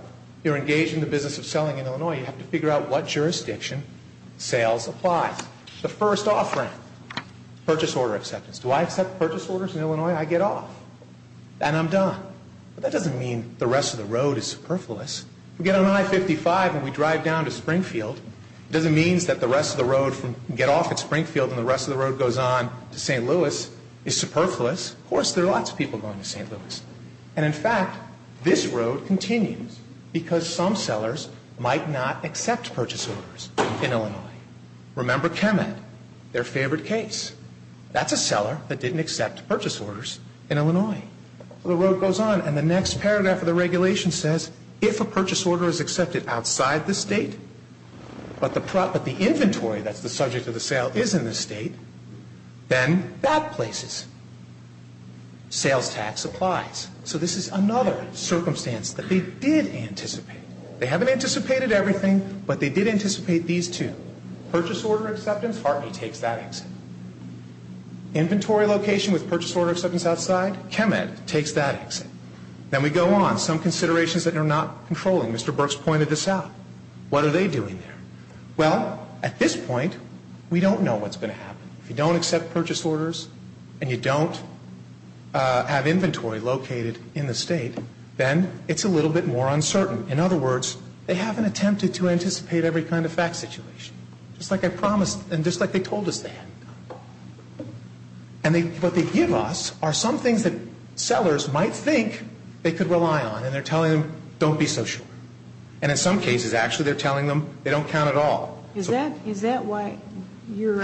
You're engaged in the business of selling in Illinois. You have to figure out what jurisdiction sales applies. The first offering, purchase order acceptance. Do I accept purchase orders in Illinois? I get off, and I'm done. But that doesn't mean the rest of the road is superfluous. We get on I-55 and we drive down to Springfield. It doesn't mean that the rest of the road from get off at Springfield and the rest of the road goes on to St. Louis is superfluous. Of course, there are lots of people going to St. Louis. And, in fact, this road continues because some sellers might not accept purchase orders in Illinois. Remember Kemet, their favorite case. That's a seller that didn't accept purchase orders in Illinois. The road goes on, and the next paragraph of the regulation says if a purchase order is accepted outside the state, but the inventory that's the subject of the sale is in the state, then that places. Sales tax applies. So this is another circumstance that they did anticipate. They haven't anticipated everything, but they did anticipate these two. Purchase order acceptance, Hartney takes that exit. Inventory location with purchase order acceptance outside, Kemet takes that exit. Then we go on. Some considerations that they're not controlling. Mr. Burks pointed this out. What are they doing there? Well, at this point, we don't know what's going to happen. If you don't accept purchase orders and you don't have inventory located in the state, then it's a little bit more uncertain. In other words, they haven't attempted to anticipate every kind of fact situation, just like I promised and just like they told us they hadn't. And what they give us are some things that sellers might think they could rely on, and they're telling them don't be so sure. And in some cases, actually, they're telling them they don't count at all. Is that why your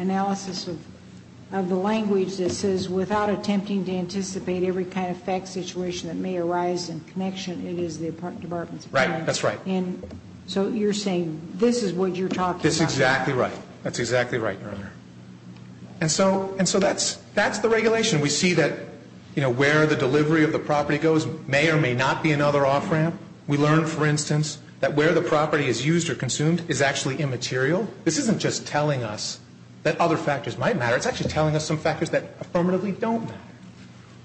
analysis of the language that says without attempting to anticipate every kind of fact situation that may arise in connection, it is the department's fault? Right. That's right. And so you're saying this is what you're talking about. That's exactly right. That's exactly right, Your Honor. And so that's the regulation. We see that where the delivery of the property goes may or may not be another off-ramp. We learn, for instance, that where the property is used or consumed is actually immaterial. This isn't just telling us that other factors might matter. It's actually telling us some factors that affirmatively don't matter.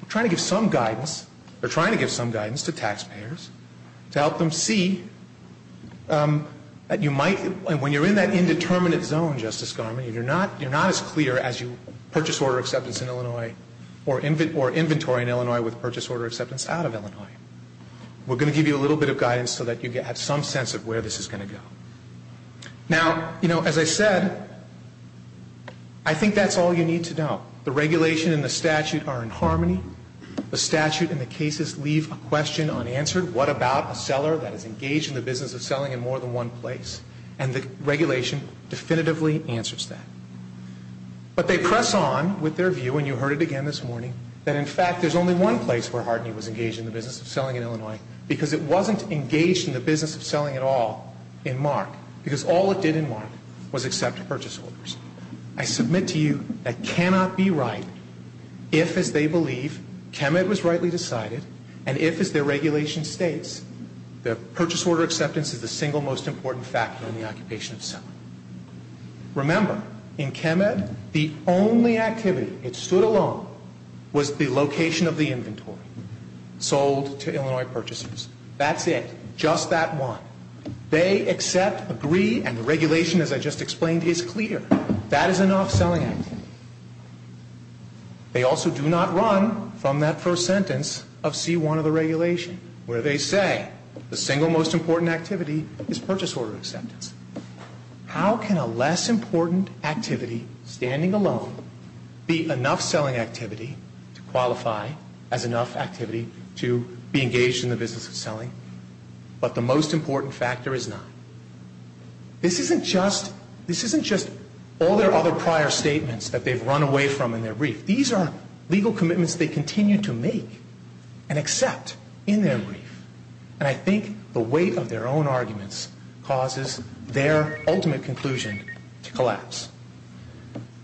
We're trying to give some guidance. to help them see that you might, when you're in that indeterminate zone, Justice Garmon, you're not as clear as you purchase order acceptance in Illinois or inventory in Illinois with purchase order acceptance out of Illinois. We're going to give you a little bit of guidance so that you have some sense of where this is going to go. Now, you know, as I said, I think that's all you need to know. The regulation and the statute are in harmony. The statute and the cases leave a question unanswered. What about a seller that is engaged in the business of selling in more than one place? And the regulation definitively answers that. But they press on with their view, and you heard it again this morning, that, in fact, there's only one place where Harden was engaged in the business of selling in Illinois because it wasn't engaged in the business of selling at all in MARC because all it did in MARC was accept purchase orders. I submit to you that cannot be right if, as they believe, KEMED was rightly decided and if, as their regulation states, the purchase order acceptance is the single most important factor in the occupation of selling. Remember, in KEMED, the only activity that stood alone was the location of the inventory sold to Illinois purchasers. That's it. Just that one. They accept, agree, and the regulation, as I just explained, is clear. That is enough selling activity. They also do not run from that first sentence of C-1 of the regulation where they say the single most important activity is purchase order acceptance. How can a less important activity, standing alone, be enough selling activity to qualify as enough activity to be engaged in the business of selling, but the most important factor is not? This isn't just all their other prior statements that they've run away from in their brief. These are legal commitments they continue to make and accept in their brief. And I think the weight of their own arguments causes their ultimate conclusion to collapse.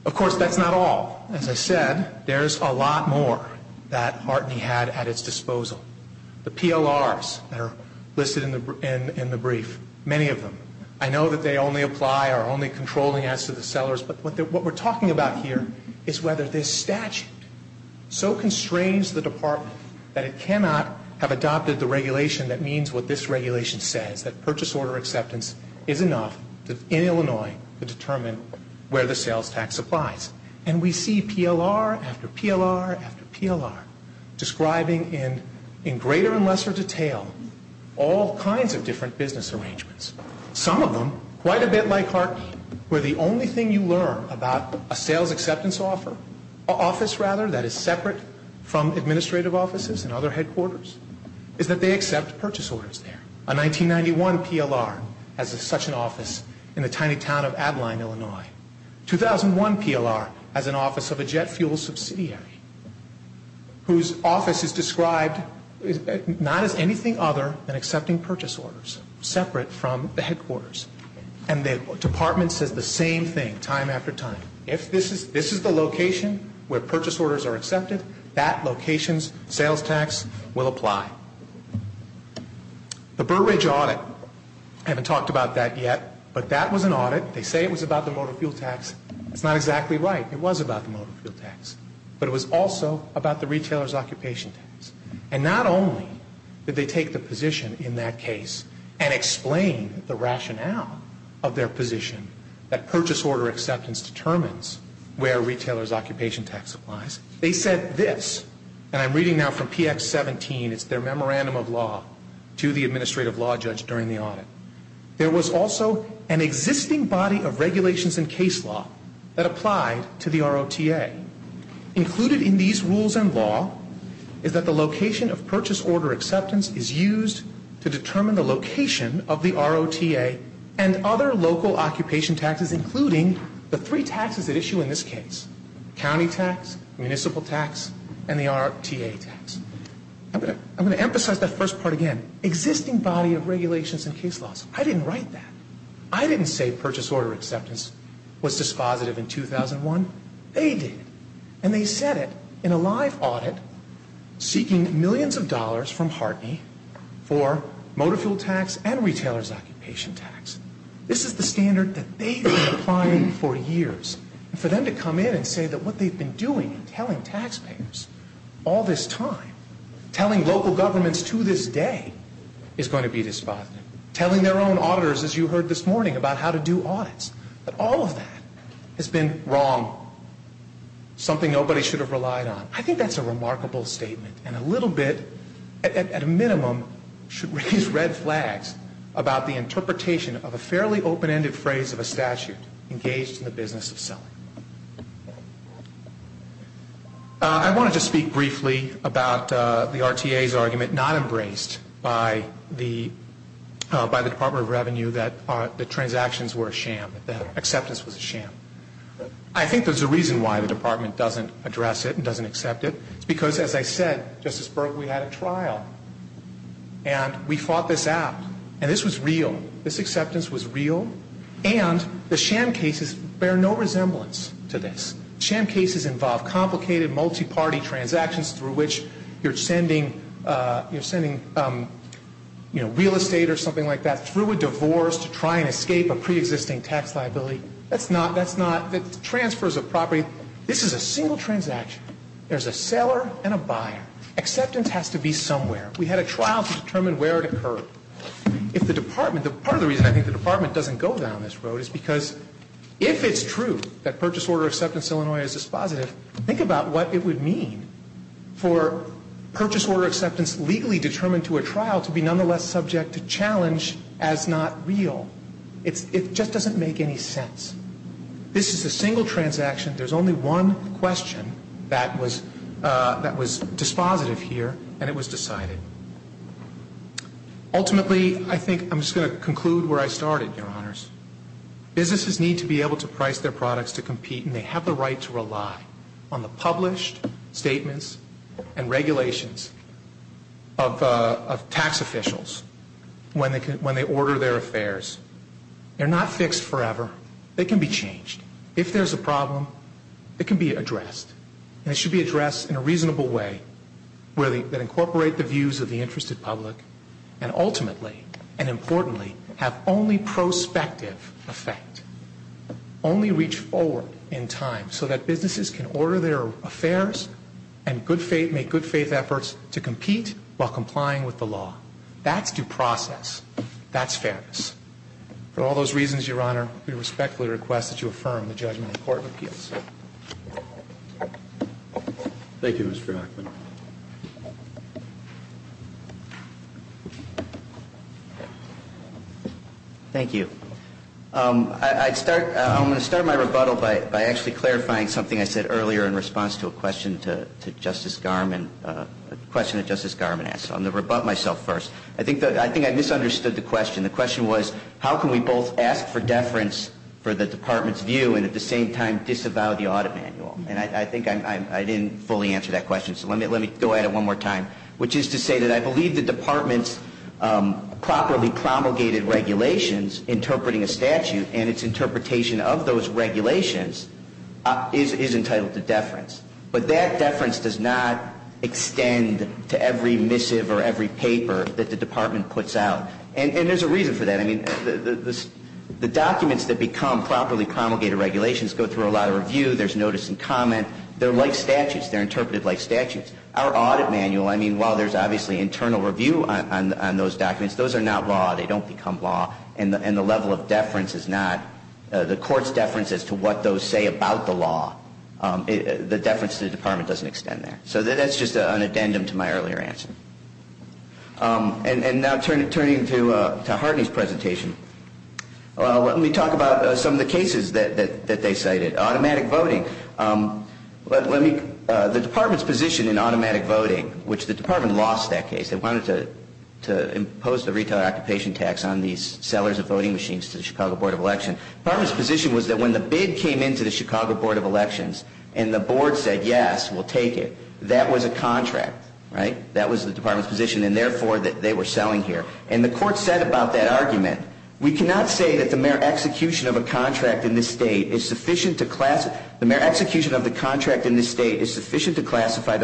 Of course, that's not all. As I said, there's a lot more that HARTNEY had at its disposal. The PLRs that are listed in the brief, many of them. I know that they only apply or are only controlling as to the sellers, but what we're talking about here is whether this statute so constrains the department that it cannot have adopted the regulation that means what this regulation says, that purchase order acceptance is enough in Illinois to determine where the sales tax applies. And we see PLR after PLR after PLR describing in greater and lesser detail all kinds of different business arrangements. Some of them, quite a bit like HARTNEY, where the only thing you learn about a sales acceptance office that is separate from administrative offices and other headquarters is that they accept purchase orders there. A 1991 PLR has such an office in the tiny town of Abilene, Illinois. 2001 PLR has an office of a jet fuel subsidiary whose office is described not as anything other than accepting purchase orders, separate from the headquarters. And the department says the same thing time after time. If this is the location where purchase orders are accepted, that location's sales tax will apply. The Burridge audit, I haven't talked about that yet, but that was an audit. They say it was about the motor fuel tax. It's not exactly right. It was about the motor fuel tax. But it was also about the retailer's occupation tax. And not only did they take the position in that case and explain the rationale of their position that purchase order acceptance determines where a retailer's occupation tax applies, they said this, and I'm reading now from PX17, it's their memorandum of law to the administrative law judge during the audit. There was also an existing body of regulations and case law that applied to the ROTA. Included in these rules and law is that the location of purchase order acceptance is used to determine the location of the ROTA and other local occupation taxes, including the three taxes at issue in this case, county tax, municipal tax, and the ROTA tax. I'm going to emphasize that first part again. Existing body of regulations and case laws. I didn't write that. I didn't say purchase order acceptance was dispositive in 2001. They did. And they said it in a live audit, seeking millions of dollars from Hartney for motor fuel tax and retailer's occupation tax. This is the standard that they've been applying for years. And for them to come in and say that what they've been doing in telling taxpayers all this time, telling local governments to this day is going to be dispositive, telling their own auditors, as you heard this morning, about how to do audits, that all of that has been wrong, something nobody should have relied on. I think that's a remarkable statement and a little bit, at a minimum, should raise red flags about the interpretation of a fairly open-ended phrase of a statute engaged in the business of selling. I want to just speak briefly about the RTA's argument not embraced by the Department of Revenue that the transactions were a sham, that acceptance was a sham. I think there's a reason why the Department doesn't address it and doesn't accept it. It's because, as I said, Justice Berg, we had a trial. And we fought this out. And this was real. This acceptance was real. And the sham cases bear no resemblance. Sham cases involve complicated, multi-party transactions through which you're sending real estate or something like that through a divorce to try and escape a preexisting tax liability. That's not the transfers of property. This is a single transaction. There's a seller and a buyer. Acceptance has to be somewhere. We had a trial to determine where it occurred. If the Department, part of the reason I think the Department doesn't go down this road is because if it's true that purchase order acceptance in Illinois is dispositive, think about what it would mean for purchase order acceptance legally determined to a trial to be nonetheless subject to challenge as not real. It just doesn't make any sense. This is a single transaction. There's only one question that was dispositive here, and it was decided. Ultimately, I think I'm just going to conclude where I started, Your Honors. Businesses need to be able to price their products to compete, and they have the right to rely on the published statements and regulations of tax officials when they order their affairs. They're not fixed forever. They can be changed. If there's a problem, it can be addressed. And it should be addressed in a reasonable way that incorporate the views of the interested public and ultimately and importantly have only prospective effect, only reach forward in time so that businesses can order their affairs and make good faith efforts to compete while complying with the law. That's due process. That's fairness. For all those reasons, Your Honor, we respectfully request that you affirm the judgment in court of appeals. Thank you, Mr. Hackman. Thank you. I'm going to start my rebuttal by actually clarifying something I said earlier in response to a question to Justice Garman, a question that Justice Garman asked. I'm going to rebut myself first. I think I misunderstood the question. The question was, how can we both ask for deference for the Department's view and at the same time disavow the audit manual? And I think I didn't fully answer that question, so let me go at it one more time, which is to say that I believe the Department's properly promulgated regulations interpreting a statute and its interpretation of those regulations is entitled to deference. But that deference does not extend to every missive or every paper that the Department puts out. And there's a reason for that. I mean, the documents that become properly promulgated regulations go through a lot of review. There's notice and comment. They're like statutes. They're interpreted like statutes. Our audit manual, I mean, while there's obviously internal review on those documents, those are not law. They don't become law. And the level of deference is not the court's deference as to what those say about the law. The deference to the Department doesn't extend there. So that's just an addendum to my earlier answer. And now turning to Harding's presentation, let me talk about some of the cases that they cited. Automatic voting. The Department's position in automatic voting, which the Department lost that case. They wanted to impose the retail occupation tax on these sellers of voting machines to the Chicago Board of Election. The Department's position was that when the bid came in to the Chicago Board of Elections and the board said, yes, we'll take it, that was a contract. That was the Department's position and, therefore, that they were selling here. And the court said about that argument, we cannot say that the mere execution of a contract in this state is sufficient to classify the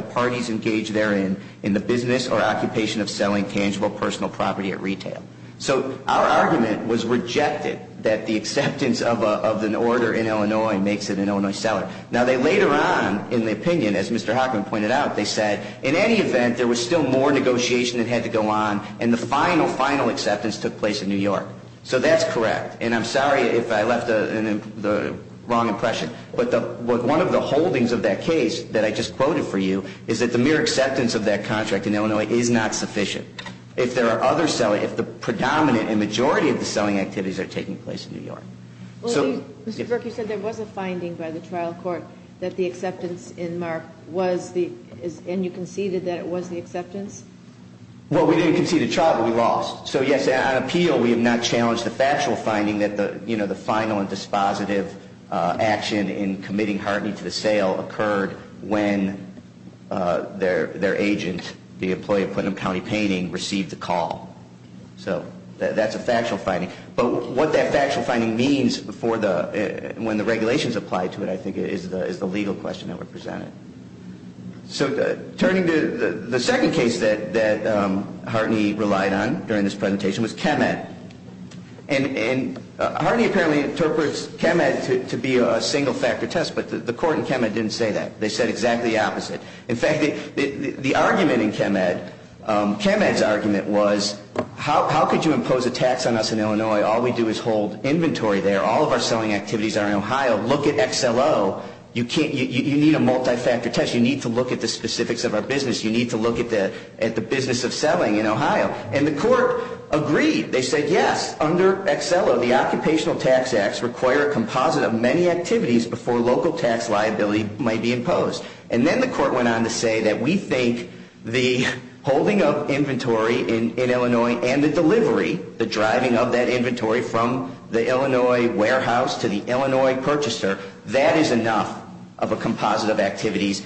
parties engaged therein in the business or occupation of selling tangible personal property at retail. So our argument was rejected that the acceptance of an order in Illinois makes it an Illinois seller. Now, they later on, in the opinion, as Mr. Hockman pointed out, they said in any event there was still more negotiation that had to go on and the final, final acceptance took place in New York. So that's correct. And I'm sorry if I left the wrong impression, but one of the holdings of that case that I just quoted for you is that the mere acceptance of that contract in Illinois is not sufficient if the predominant and majority of the selling activities are taking place in New York. Well, Mr. Burke, you said there was a finding by the trial court that the acceptance in MARC was the, and you conceded that it was the acceptance? Well, we didn't concede a trial, but we lost. So, yes, on appeal, we have not challenged the factual finding that the, you know, the final and dispositive action in committing Hartney to the sale occurred when their agent, the employee of Putnam County Painting, received the call. So that's a factual finding. But what that factual finding means for the, when the regulations apply to it, I think is the legal question that were presented. So turning to the second case that Hartney relied on during this presentation was ChemEd. And Hartney apparently interprets ChemEd to be a single-factor test, but the court in ChemEd didn't say that. They said exactly the opposite. In fact, the argument in ChemEd, ChemEd's argument was, how could you impose a tax on us in Illinois? All we do is hold inventory there. All of our selling activities are in Ohio. Look at XLO. You need a multi-factor test. You need to look at the specifics of our business. You need to look at the business of selling in Ohio. And the court agreed. They said, yes, under XLO, the Occupational Tax Acts require a composite of many activities before local tax liability might be imposed. And then the court went on to say that we think the holding of inventory in Illinois and the delivery, the driving of that inventory from the Illinois warehouse to the Illinois purchaser, that is enough of a composite of activities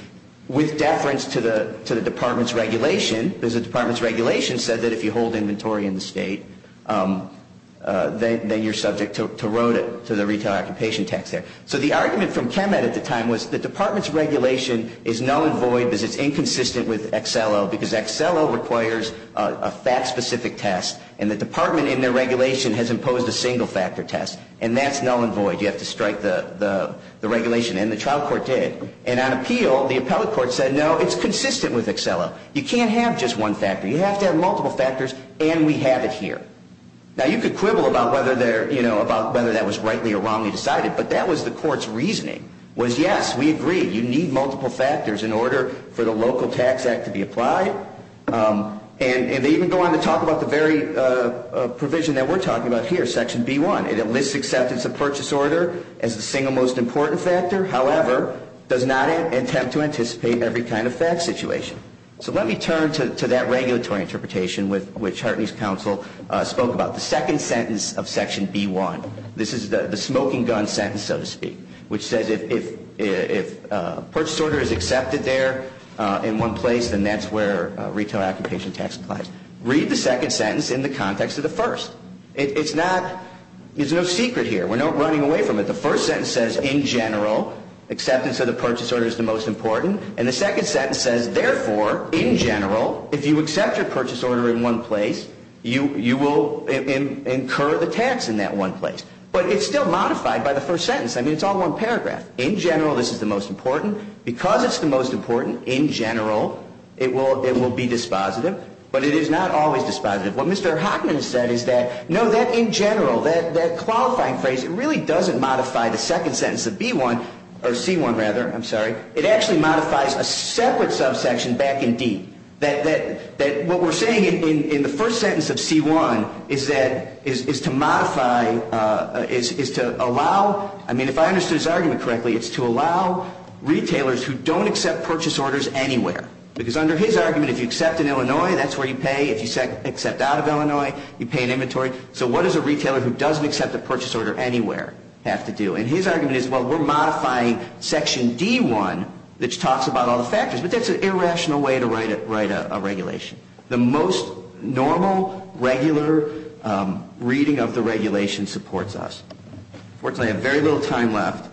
with deference to the department's regulation, because the department's regulation said that if you hold inventory in the state, then you're subject to road it to the Retail Occupation Tax Act. So the argument from ChemEd at the time was the department's regulation is null and void because it's inconsistent with XLO, because XLO requires a fact-specific test, and the department in their regulation has imposed a single-factor test, and that's null and void. You have to strike the regulation, and the trial court did. And on appeal, the appellate court said, no, it's consistent with XLO. You can't have just one factor. You have to have multiple factors, and we have it here. Now, you could quibble about whether that was rightly or wrongly decided, but that was the court's reasoning, was, yes, we agree. You need multiple factors in order for the local tax act to be applied. And they even go on to talk about the very provision that we're talking about here, Section B1. It enlists acceptance of purchase order as the single most important factor, however, does not attempt to anticipate every kind of fact situation. So let me turn to that regulatory interpretation which Hartney's counsel spoke about, the second sentence of Section B1. This is the smoking gun sentence, so to speak, which says if purchase order is accepted there in one place, then that's where retail occupation tax applies. Read the second sentence in the context of the first. It's not – there's no secret here. We're not running away from it. The first sentence says, in general, acceptance of the purchase order is the most important, and the second sentence says, therefore, in general, if you accept your purchase order in one place, you will incur the tax in that one place. But it's still modified by the first sentence. I mean, it's all one paragraph. In general, this is the most important. Because it's the most important, in general, it will be dispositive. But it is not always dispositive. What Mr. Hockman said is that, no, that in general, that qualifying phrase, it really doesn't modify the second sentence of B1 – or C1, rather, I'm sorry. It actually modifies a separate subsection back in D. That what we're saying in the first sentence of C1 is that – is to modify – is to allow – I mean, if I understood his argument correctly, it's to allow retailers who don't accept purchase orders anywhere. Because under his argument, if you accept in Illinois, that's where you pay. If you accept out of Illinois, you pay in inventory. So what does a retailer who doesn't accept a purchase order anywhere have to do? And his argument is, well, we're modifying Section D1, which talks about all the factors. But that's an irrational way to write a regulation. The most normal, regular reading of the regulation supports us. Unfortunately, I have very little time left.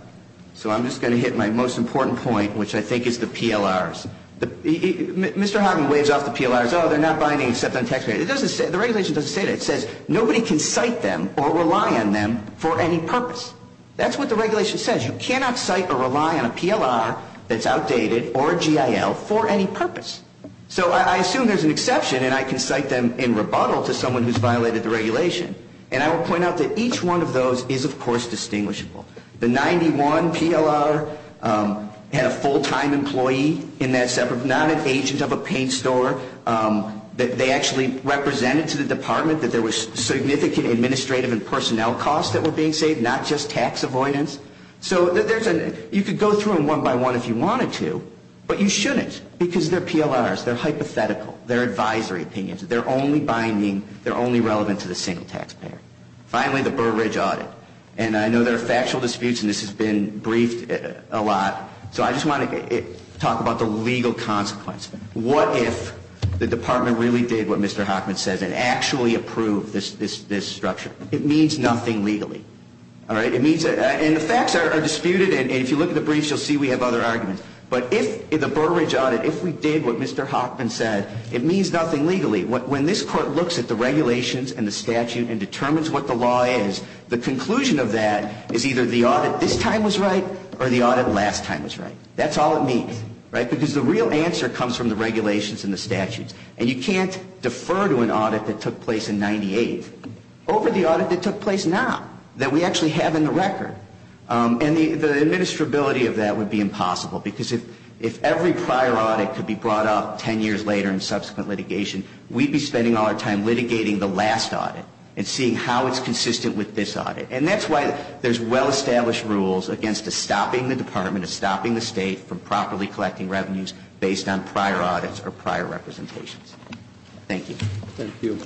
So I'm just going to hit my most important point, which I think is the PLRs. Mr. Hockman waves off the PLRs. Oh, they're not binding except on taxpayer. It doesn't say – the regulation doesn't say that. It says nobody can cite them or rely on them for any purpose. That's what the regulation says. You cannot cite or rely on a PLR that's outdated or a GIL for any purpose. So I assume there's an exception, and I can cite them in rebuttal to someone who's violated the regulation. And I will point out that each one of those is, of course, distinguishable. The 91 PLR had a full-time employee in that separate – not an agent of a paint store. They actually represented to the department that there was significant administrative and personnel costs that were being saved, not just tax avoidance. So you could go through them one by one if you wanted to, but you shouldn't because they're PLRs. They're hypothetical. They're advisory opinions. They're only binding. They're only relevant to the single taxpayer. Finally, the Burr Ridge audit. And I know there are factual disputes, and this has been briefed a lot. So I just want to talk about the legal consequence. What if the department really did what Mr. Hockman says and actually approved this structure? It means nothing legally. All right? And the facts are disputed, and if you look at the briefs, you'll see we have other arguments. But if the Burr Ridge audit, if we did what Mr. Hockman said, it means nothing legally. When this court looks at the regulations and the statute and determines what the law is, the conclusion of that is either the audit this time was right or the audit last time was right. That's all it means, right? Because the real answer comes from the regulations and the statutes. And you can't defer to an audit that took place in 98 over the audit that took place now that we actually have in the record. And the administrability of that would be impossible because if every prior audit could be brought up 10 years later in subsequent litigation, we'd be spending all our time litigating the last audit and seeing how it's consistent with this audit. And that's why there's well-established rules against stopping the department, stopping the state from properly collecting revenues based on prior audits or prior representations. Thank you. Thank you.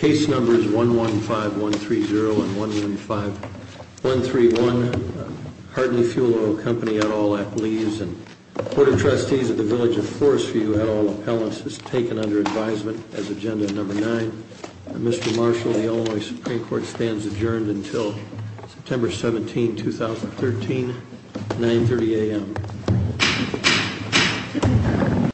Case numbers 115130 and 115131, Hartley Fuel Oil Company, et al., I believe, and the Board of Trustees of the Village of Forestview, et al., appellants, is taken under advisement as agenda number nine. Mr. Marshall, the Illinois Supreme Court stands adjourned until September 17, 2013, 930 a.m.